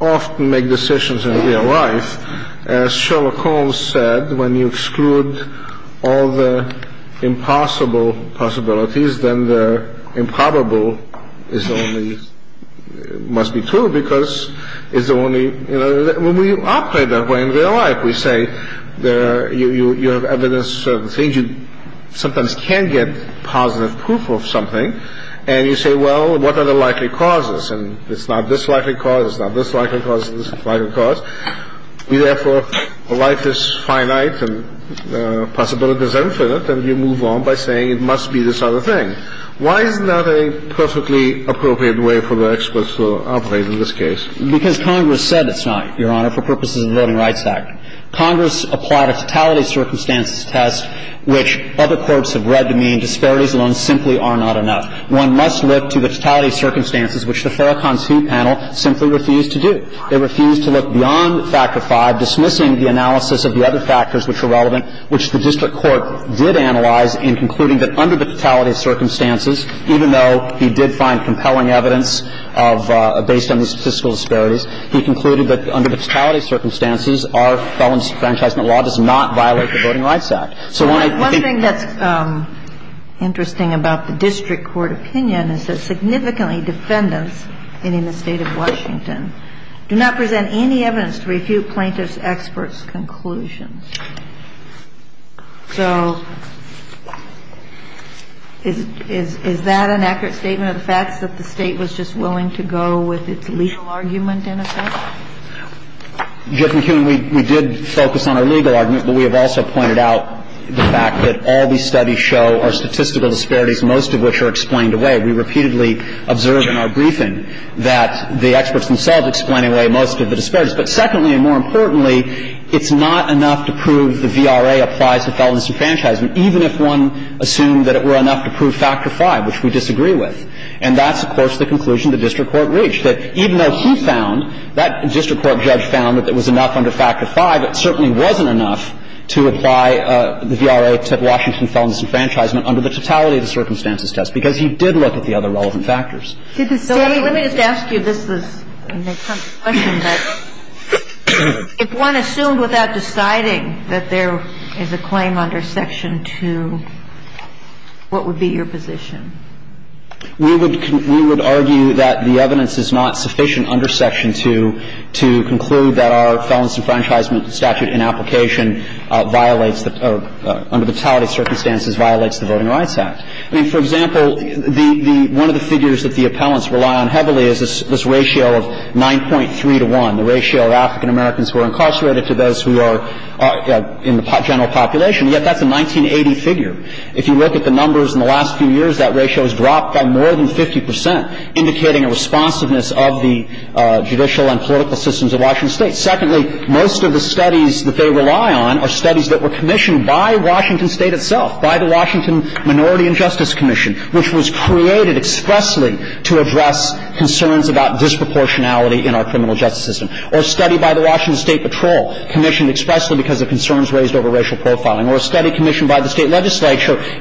often make decisions in real life. As Sherlock Holmes said, when you exclude all the impossible possibilities, then the improbable is the only – must be true, because it's the only – when we operate that way in real life, we say you have evidence of certain things, you sometimes can get positive proof of something, and you say, well, what are the likely causes? And it's not this likely cause, it's not this likely cause, it's this likely cause. We therefore write this finite and the possibility is infinite, and we move on by saying it must be this other thing. Why is that a perfectly appropriate way for the experts to operate in this case? Because Congress said it's not, Your Honor, for purposes of the Voting Rights Act. Congress applied a totality of circumstances test, which other courts have read to mean disparities alone simply are not enough. One must look to the totality of circumstances, which the Farrakhan II panel simply refused to do. They refused to look beyond Factor V, dismissing the analysis of the other factors which were relevant, which the district court did analyze in concluding that under the totality of circumstances, even though he did find compelling evidence of – based on these statistical disparities, he concluded that under the totality of circumstances, our felon's enfranchisement law does not violate the Voting Rights Act. So when I think that's interesting about the district court opinion is that significantly defendants in the State of Washington do not present any evidence to refute plaintiff's experts' conclusions. So is that an accurate statement of the fact that the State was just willing to go with its legal argument in effect? Jeff McEwen, we did focus on a legal argument, but we have also pointed out the fact that all these studies show are statistical disparities, most of which are explained away. We repeatedly observed in our briefing that the experts themselves explain away most of the disparities. But secondly, and more importantly, it's not enough to prove the VRA applies to felon's enfranchisement, even if one assumed that it were enough to prove Factor V, which we disagree with. And that's, of course, the conclusion the district court reached, that even though he found, that district court judge found that it was enough under Factor V, it certainly wasn't enough to apply the VRA to Washington felon's enfranchisement under the totality of the circumstances test, because he did look at the other relevant factors. Kagan. So let me just ask you this, this question, that if one assumed without deciding that there is a claim under Section 2, what would be your position? We would argue that the evidence is not sufficient under Section 2 to conclude that our felon's enfranchisement statute in application violates the or under the totality of circumstances violates the Voting Rights Act. I mean, for example, the one of the figures that the appellants rely on heavily is this ratio of 9.3 to 1, the ratio of African Americans who are incarcerated to those who are in the general population, yet that's a 1980 figure. If you look at the numbers in the last few years, that ratio has dropped by more than 50%, indicating a responsiveness of the judicial and political systems of Washington State. Secondly, most of the studies that they rely on are studies that were commissioned by Washington State itself, by the Washington Minority and Justice Commission, which was created expressly to address concerns about disproportionality in our criminal justice system, or a study by the Washington State Patrol,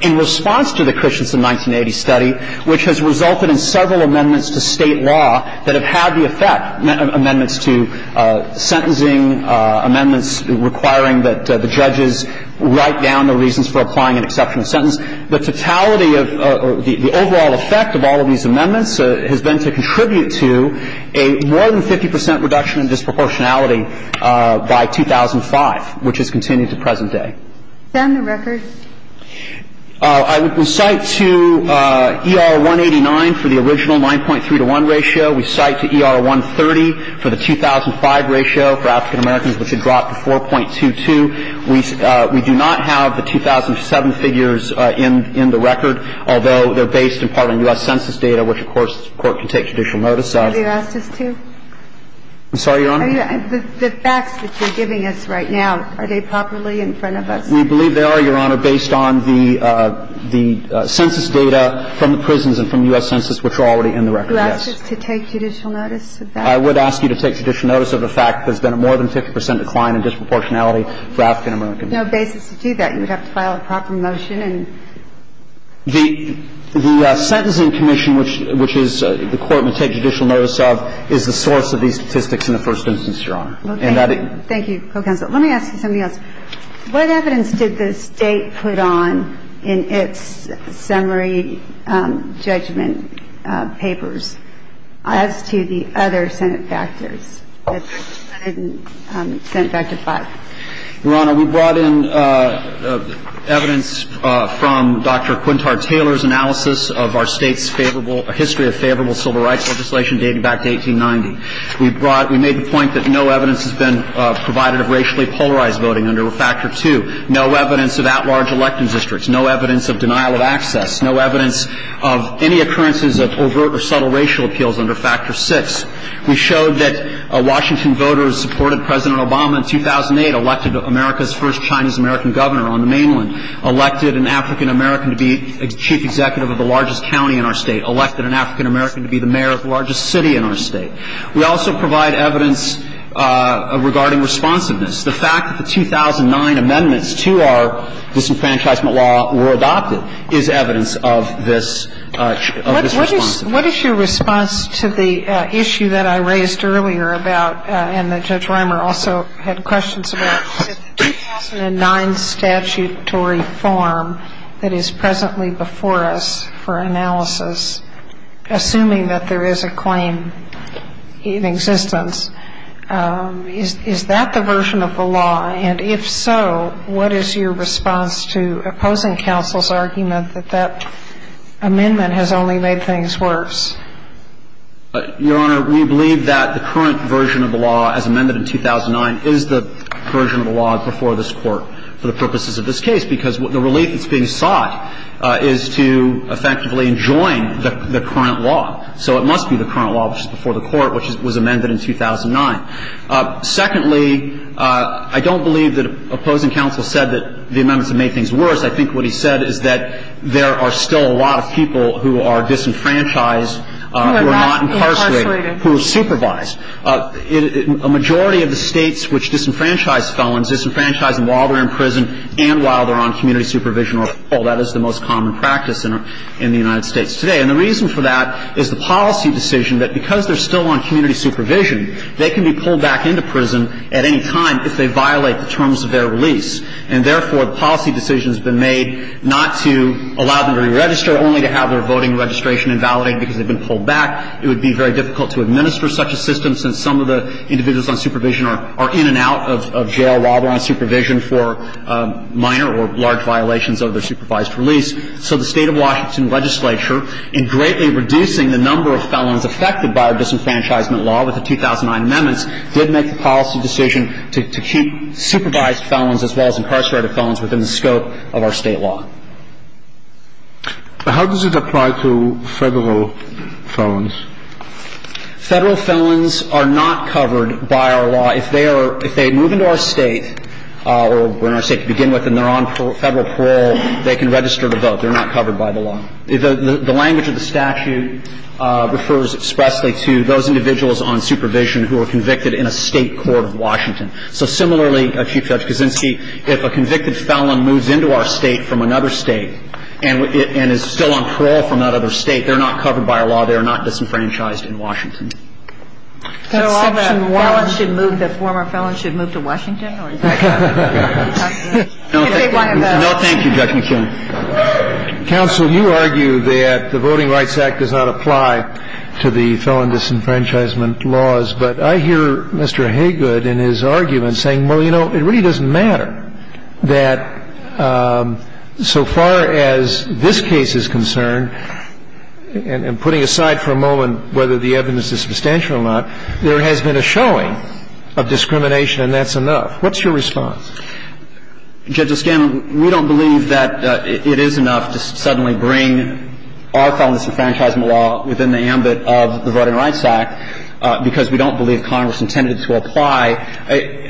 in response to the Christensen 1980 study, which has resulted in several amendments to State law that have had the effect, amendments to sentencing, amendments requiring that the judges write down the reasons for applying an exceptional sentence. The totality of the overall effect of all of these amendments has been to contribute to a more than 50% reduction in disproportionality by 2005, which has continued to present day. Stand the record. I would cite to ER 189 for the original 9.3 to 1 ratio. We cite to ER 130 for the 2005 ratio for African-Americans, which has dropped to 4.22. We do not have the 2007 figures in the record, although they're based, in part, on U.S. Census data, which of course, the Court can take judicial notice of. Would you ask us to? I'm sorry, Your Honor? The facts that you're giving us right now, are they properly in front of us? We believe they are, Your Honor, based on the census data from the prisons and from U.S. Census, which are already in the record, yes. Would you ask us to take judicial notice of that? I would ask you to take judicial notice of the fact that there's been a more than 50 percent decline in disproportionality for African-Americans. There's no basis to do that. You would have to file a proper motion. The Sentencing Commission, which the Court would take judicial notice of, is the I'm sorry, Your Honor, we didn't have the statistics in the first instance, Your Honor. Thank you, Co-Counsel. Let me ask you something else. We brought, we made the point that no evidence has been provided of racially polarized voting under Factor 2. No evidence of at-large elected districts. No evidence of denial of access. No evidence of any occurrences of overt or subtle racial appeals under Factor 6. We showed that Washington voters supported President Obama in 2008, elected America's first Chinese-American governor on the mainland, elected an African-American to be chief executive of the largest county in our state, elected an African-American to be the mayor of the largest city in our state. We also provide evidence regarding responsiveness. The fact that the 2009 amendments to our disenfranchisement law were adopted is evidence of this, of this responsiveness. What is your response to the issue that I raised earlier about, and that Judge Reimer also had questions about, the 2009 statutory form that is presently before us for analysis, assuming that there is a claim in existence. Is that the version of the law? And if so, what is your response to opposing counsel's argument that that amendment has only made things worse? Your Honor, we believe that the current version of the law as amended in 2009 is the version of the law before this Court for the purposes of this case, because the relief that's enjoined is the current law. So it must be the current law before the Court, which was amended in 2009. Secondly, I don't believe that opposing counsel said that the amendments have made things worse. I think what he said is that there are still a lot of people who are disenfranchised, who are not incarcerated, who are supervised. A majority of the states which disenfranchise felons, disenfranchise them while they're in prison and while they're on community supervision or parole, that is the most common practice in the United States today. And the reason for that is the policy decision that because they're still on community supervision, they can be pulled back into prison at any time if they violate the terms of their release. And therefore, the policy decision has been made not to allow them to re-register, only to have their voting registration invalidated because they've been pulled back. It would be very difficult to administer such a system since some of the individuals on supervision are in and out of jail while they're on supervision for minor or large violations of their supervised release. So the State of Washington legislature, in greatly reducing the number of felons affected by our disenfranchisement law with the 2009 amendments, did make the policy decision to keep supervised felons as well as incarcerated felons within the scope of our state law. But how does it apply to Federal felons? Federal felons are not covered by our law. If they are – if they move into our State, or when our State can begin with and they're on Federal parole, they can register to vote. They're not covered by the law. The language of the statute refers expressly to those individuals on supervision who are convicted in a State court of Washington. So similarly, Chief Judge Kuczynski, if a convicted felon moves into our State from another State and is still on parole from that other State, they're not covered by our law. They are not disenfranchised in Washington. So all the felons should move – the former felons should move to Washington? No, thank you, Judge McKeon. Counsel, you argue that the Voting Rights Act does not apply to the felon disenfranchisement laws, but I hear Mr. Haygood in his argument saying, well, you know, it really doesn't matter that so far as this case is concerned, and putting aside for a moment whether the evidence is substantial or not, there has been a showing of discrimination and that's enough. What's your response? Judge O'Scanlon, we don't believe that it is enough to suddenly bring our felon disenfranchisement law within the ambit of the Voting Rights Act because we don't believe Congress intended it to apply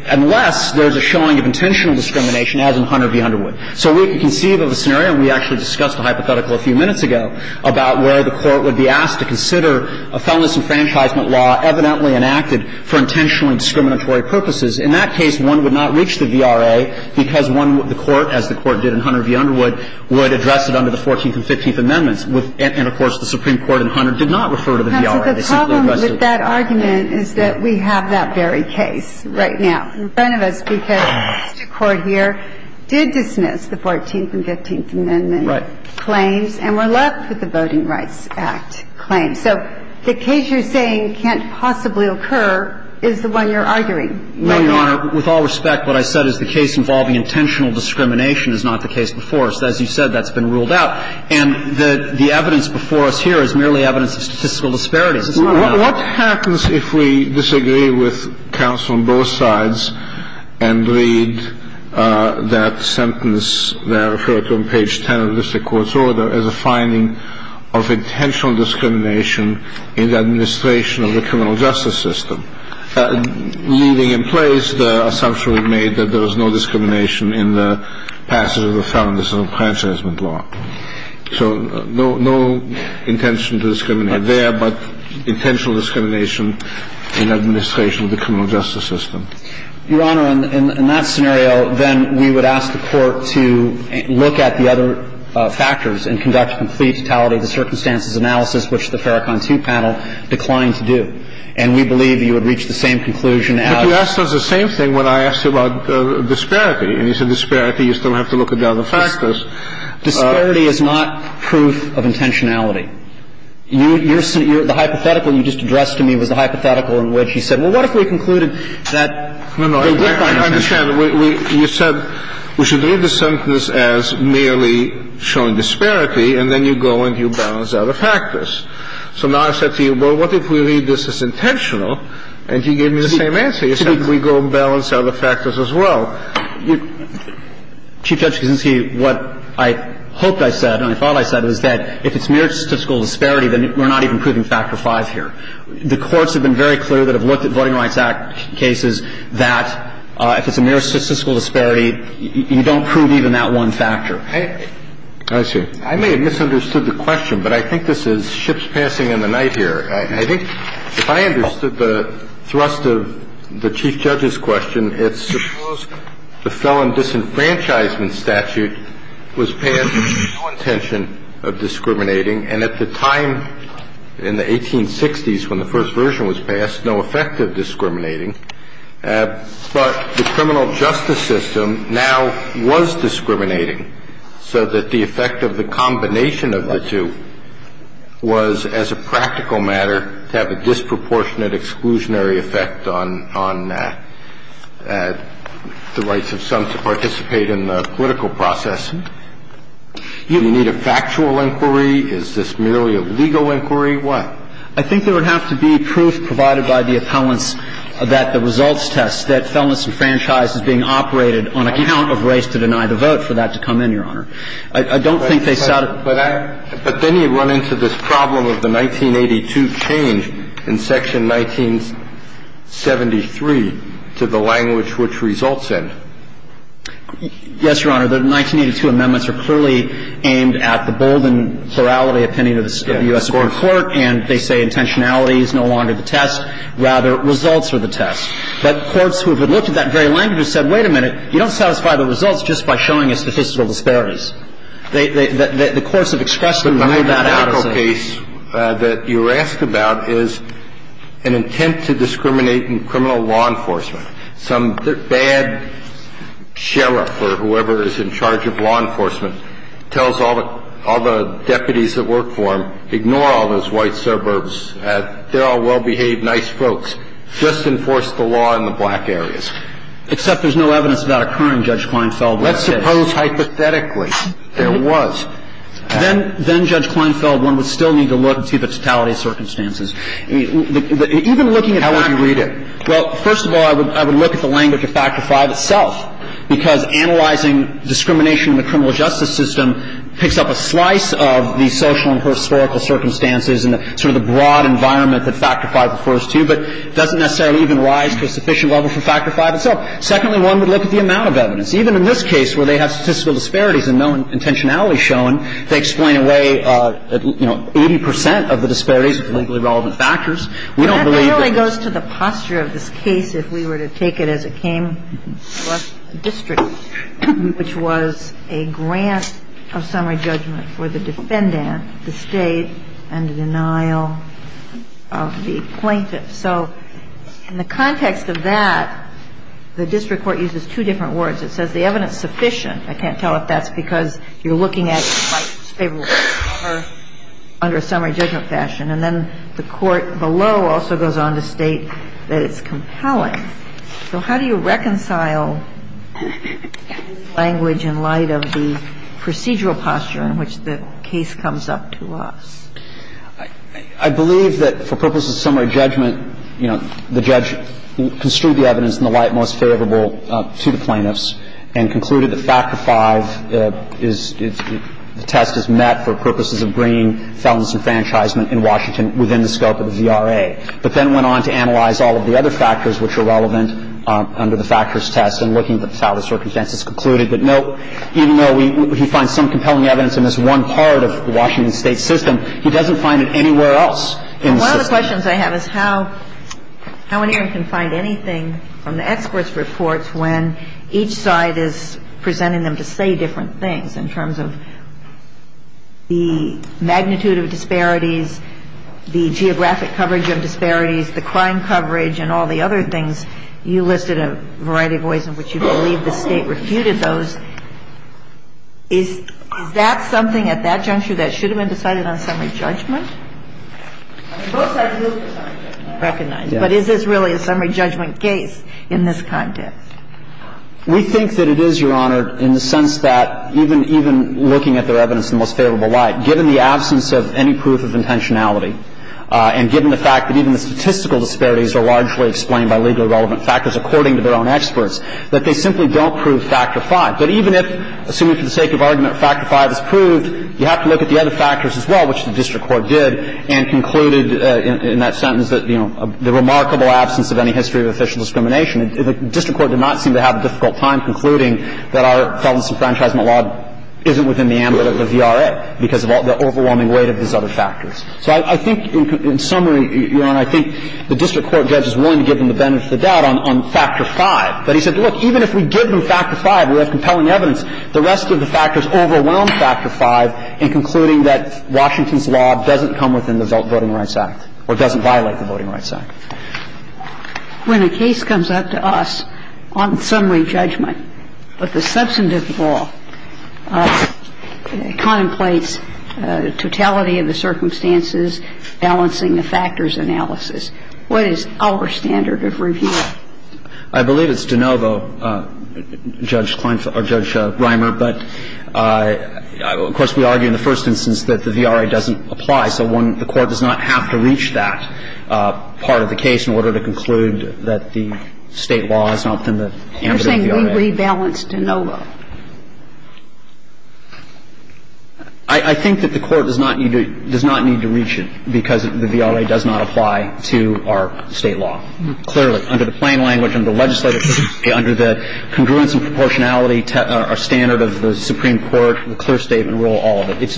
unless there's a showing of intentional discrimination, as in Hunter v. Underwood. So we can conceive of a scenario, and we actually discussed a hypothetical a few minutes ago, about where the Court would be asked to consider a felon disenfranchisement law evidently enacted for intentionally discriminatory purposes. In that case, one would not reach the VRA because one of the Court, as the Court did in Hunter v. Underwood, would address it under the Fourteenth and Fifteenth Amendments, and, of course, the Supreme Court in Hunter did not refer to the VRA. The problem with that argument is that we have that very case right now in front of us because the Court here did dismiss the Fourteenth and Fifteenth Amendment claims and were left with the Voting Rights Act claims. So the case you're saying can't possibly occur is the one you're arguing. No, Your Honor. With all respect, what I said is the case involving intentional discrimination is not the case before us. As you said, that's been ruled out. And the evidence before us here is merely evidence of statistical disparities. What happens if we disagree with counsel on both sides and read that sentence that I referred to on page 10 of the District Court's order as a finding of intentional discrimination in the administration of the criminal justice system? Leaving in place the assumption we made that there was no discrimination in the passage of the felon disenfranchisement law. So no intention to discriminate there, but intentional discrimination in administration of the criminal justice system. Your Honor, in that scenario, then we would ask the Court to look at the other factors and conduct a complete totality of the circumstances analysis, which the Farrakhan II panel declined to do. And we believe you would reach the same conclusion as the other. But you asked us the same thing when I asked you about disparity. And you said disparity, you still have to look at the other factors. Disparity is not proof of intentionality. The hypothetical you just addressed to me was the hypothetical in which you said, well, what if we concluded that there was no intentionality? No, no, I understand. You said we should read the sentence as merely showing disparity, and then you go and you balance the other factors. So now I said to you, well, what if we read this as intentional? And you gave me the same answer. You said we go and balance the other factors as well. Chief Judge Kaczynski, what I hoped I said and I thought I said was that if it's mere statistical disparity, then we're not even proving Factor V here. The courts have been very clear that have looked at Voting Rights Act cases that if it's a mere statistical disparity, you don't prove even that one factor. I see. I may have misunderstood the question, but I think this is ships passing in the night here. I think if I understood the thrust of the Chief Judge's question, it's suppose the felon disenfranchisement statute was passed with no intention of discriminating and at the time in the 1860s when the first version was passed, no effect of discriminating. But the criminal justice system now was discriminating so that the effect of the combination of the two was, as a practical matter, to have a disproportionate exclusionary effect on the rights of some to participate in the political process. I think that this is really a question of if it's a mere statistical disparity, You don't have to. Do we need a factual inquiry? Is this merely a legal inquiry? Why? I think there would have to be proof provided by the appellants that the results test that felon disenfranchise is being operated on account of race to deny the vote I don't think they sought a --. But then you run into this problem of the 1982 change in section 1973 to the language which results in. Yes, Your Honor. The 1982 amendments are clearly aimed at the bold and plurality opinion of the U.S. Supreme Court, and they say intentionality is no longer the test. Rather, results are the test. But courts who have looked at that very language have said, wait a minute, you don't satisfy the results just by showing us statistical disparities. The courts have expressedly ruled that out as a --. But the hypothetical case that you're asked about is an attempt to discriminate in criminal law enforcement. Some bad sheriff or whoever is in charge of law enforcement tells all the deputies that work for him, ignore all those white suburbs. They're all well-behaved, nice folks. Just enforce the law in the black areas. Except there's no evidence of that occurring, Judge Kleinfeld. Let's suppose hypothetically. There was. Then, Judge Kleinfeld, one would still need to look and see the totality of circumstances. Even looking at that. How would you read it? Well, first of all, I would look at the language of Factor V itself, because analyzing discrimination in the criminal justice system picks up a slice of the social and historical circumstances and sort of the broad environment that Factor V refers to, but doesn't necessarily even rise to a sufficient level for Factor V itself. Secondly, one would look at the amount of evidence. Even in this case where they have statistical disparities and no intentionality shown, they explain away, you know, 80 percent of the disparities with legally relevant factors. We don't believe that. But that really goes to the posture of this case if we were to take it as it came to us districtly, which was a grant of summary judgment for the defendant, the State, and the denial of the plaintiff. So in the context of that, the district court uses two different words. It says the evidence sufficient. I can't tell if that's because you're looking at it under a summary judgment fashion. And then the court below also goes on to state that it's compelling. So how do you reconcile language in light of the procedural posture in which the case comes up to us? I believe that for purposes of summary judgment, you know, the judge construed the evidence in the light most favorable to the plaintiffs and concluded that Factor V is the test is met for purposes of bringing felon's enfranchisement in Washington within the scope of the VRA, but then went on to analyze all of the other factors which are relevant under the factors test and looking at how the circumstances concluded that, no, even though he finds some compelling evidence in this one part of the Washington State system, he doesn't find it anywhere else in the system. One of the questions I have is how an hearing can find anything from the experts' reports when each side is presenting them to say different things in terms of the magnitude of disparities, the geographic coverage of disparities, the crime coverage, and all the other things. You listed a variety of ways in which you believe the State refuted those. Is that something at that juncture that should have been decided on summary judgment? But is this really a summary judgment case in this context? We think that it is, Your Honor, in the sense that even looking at their evidence in the most favorable light, given the absence of any proof of intentionality and given the fact that even the statistical disparities are largely explained by legally relevant factors according to their own experts, that they simply don't prove Factor V. But even if, assuming for the sake of argument, Factor V is proved, you have to look at the other factors as well, which the district court did, and concluded in that sentence that, you know, the remarkable absence of any history of official discrimination the district court did not seem to have a difficult time concluding that our felon I think in summary, Your Honor, I think the district court judge is willing to give them the benefit of the doubt on Factor V. But he said, look, even if we give them Factor V, we have compelling evidence, the rest of the factors overwhelm Factor V in concluding that Washington's law doesn't come within the Voting Rights Act or doesn't violate the Voting Rights Act. When a case comes up to us on summary judgment, but the substantive law contemplates totality of the circumstances, balancing the factors analysis, what is our standard of review? I believe it's de novo, Judge Reimer, but of course, we argue in the first instance that the VRA doesn't apply. So the court does not have to reach that part of the case in order to conclude that the State law is not within the ambit of the VRA. You're saying we rebalance de novo. I think that the court does not need to reach it because the VRA does not apply to our State law, clearly, under the plain language, under the legislative, under the congruence and proportionality, our standard of the Supreme Court, the clear statement rule, all of it.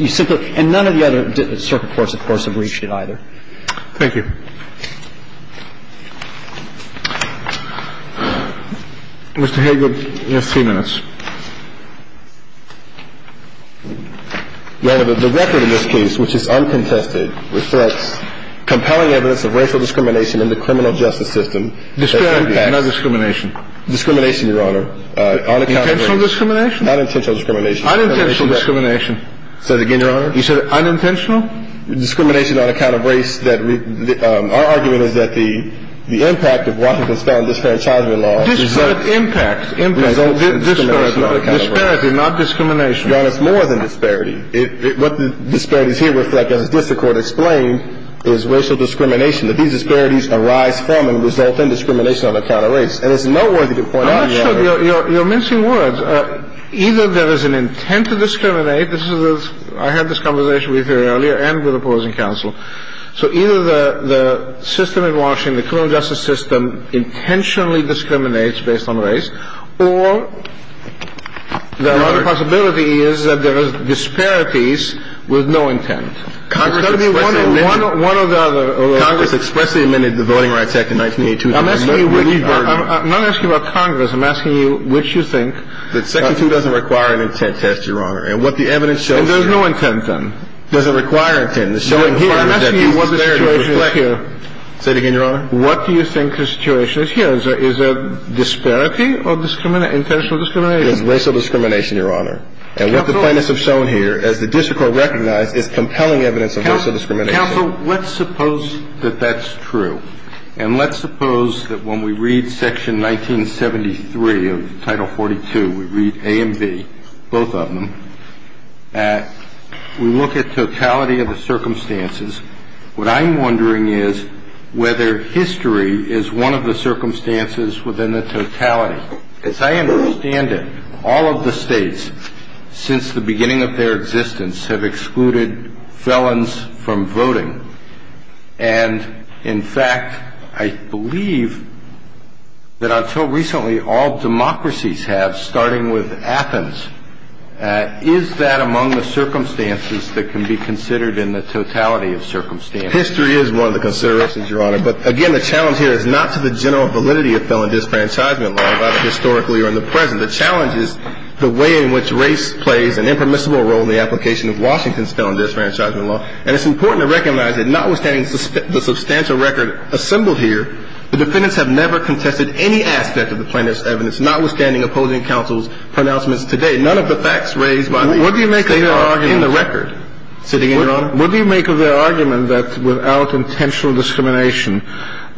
And none of the other circuit courts, of course, have reached it either. Thank you. Mr. Hagel, you have three minutes. Your Honor, the record in this case, which is uncontested, reflects compelling evidence of racial discrimination in the criminal justice system. Disparity, not discrimination. Discrimination, Your Honor, on account of race. Intentional discrimination? Unintentional discrimination. Unintentional discrimination. Say it again, Your Honor. You said unintentional? Discrimination on account of race that we – our argument is that the impact of Washington's felon disenfranchisement law results in discrimination. Impact. Impact. Discrimination on account of race. Disparity, not discrimination. Your Honor, it's more than disparity. What the disparities here reflect, as the district court explained, is racial discrimination, that these disparities arise from and result in discrimination on account of race. And it's noteworthy to point out – I'm not sure you're mincing words. Either there is an intent to discriminate. This is a – I had this conversation with you earlier and with opposing counsel. So either the system in Washington, the criminal justice system, intentionally discriminates based on race, or the other possibility is that there is disparities with no intent. Congress expressly – One of the other – Congress expressly amended the Voting Rights Act in 1982. I'm not asking you about Congress. I'm asking you which you think – That Section 2 doesn't require an intent test, Your Honor. And what the evidence shows here – And there's no intent, then. Doesn't require intent. It's showing – I'm asking you what the situation is here. Say it again, Your Honor. What do you think the situation is here? Is there disparity or discrimination – intentional discrimination? There's racial discrimination, Your Honor. Counsel – And what the plaintiffs have shown here, as the district court recognized, is compelling evidence of racial discrimination. Counsel, let's suppose that that's true. And let's suppose that when we read Section 1973 of Title 42, we read A and B, both of them, we look at totality of the circumstances. What I'm wondering is whether history is one of the circumstances within the totality. As I understand it, all of the states, since the beginning of their existence, have excluded felons from voting. And, in fact, I believe that until recently, all democracies have, starting with Athens. Is that among the circumstances that can be considered in the totality of circumstances? History is one of the considerations, Your Honor. But, again, the challenge here is not to the general validity of felon disfranchisement law, whether historically or in the present. The challenge is the way in which race plays an impermissible role in the application of Washington's felon disfranchisement law. And it's important to recognize that notwithstanding the substantial record assembled here, the defendants have never contested any aspect of the plaintiff's evidence, notwithstanding opposing counsel's pronouncements to date. None of the facts raised by the state are in the record. What do you make of their argument that without intentional discrimination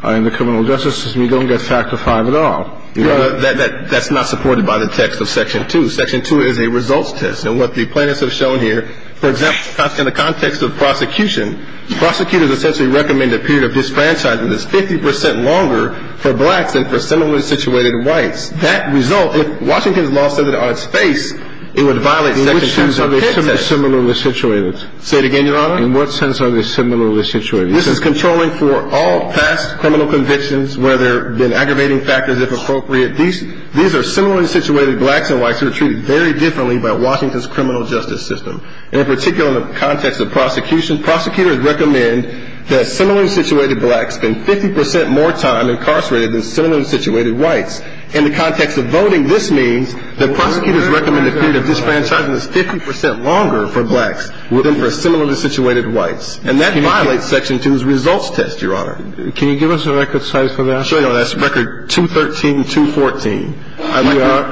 in the criminal justice system, you don't get Factor V at all? That's not supported by the text of Section 2. Section 2 is a results test. And what the plaintiffs have shown here, for example, in the context of prosecution, prosecutors essentially recommend a period of disfranchisement that's 50 percent longer for blacks than for similarly situated whites. That result, if Washington's law stood on its face, it would violate Section 2. In which sense are they similarly situated? Say it again, Your Honor? In what sense are they similarly situated? This is controlling for all past criminal convictions where there have been aggravating factors, if appropriate. These are similarly situated blacks and whites who are treated very differently by Washington's criminal justice system. And in particular in the context of prosecution, prosecutors recommend that similarly situated blacks spend 50 percent more time incarcerated than similarly situated whites. In the context of voting, this means that prosecutors recommend a period of disfranchisement that's 50 percent longer for blacks than for similarly situated whites. And that violates Section 2's results test, Your Honor. Can you give us a record size for that? Sure, Your Honor. That's record 213214.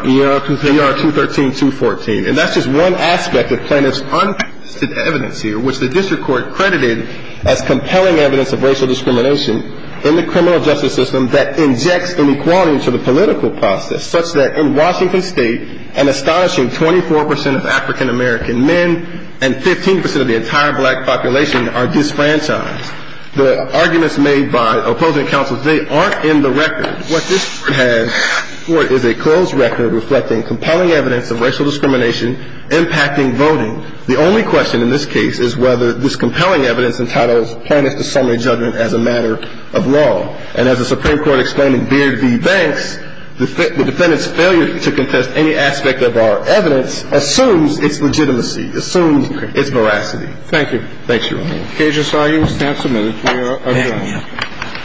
We are 213214. And that's just one aspect of plaintiffs' unpracticed evidence here, which the district court credited as compelling evidence of racial discrimination in the criminal justice system that injects inequality into the political process, such that in Washington State, an astonishing 24 percent of African American men and 15 percent of the entire black population are disfranchised. The arguments made by opposing counsels, they aren't in the record. What this has for it is a closed record reflecting compelling evidence of racial discrimination impacting voting. The only question in this case is whether this compelling evidence entitles plaintiffs to summary judgment as a matter of law. And as the Supreme Court explained in Beard v. Banks, the defendant's failure to contest any aspect of our evidence assumes its legitimacy, assumes its veracity. Thank you. Thank you, Your Honor. The case is now submitted. We are adjourned.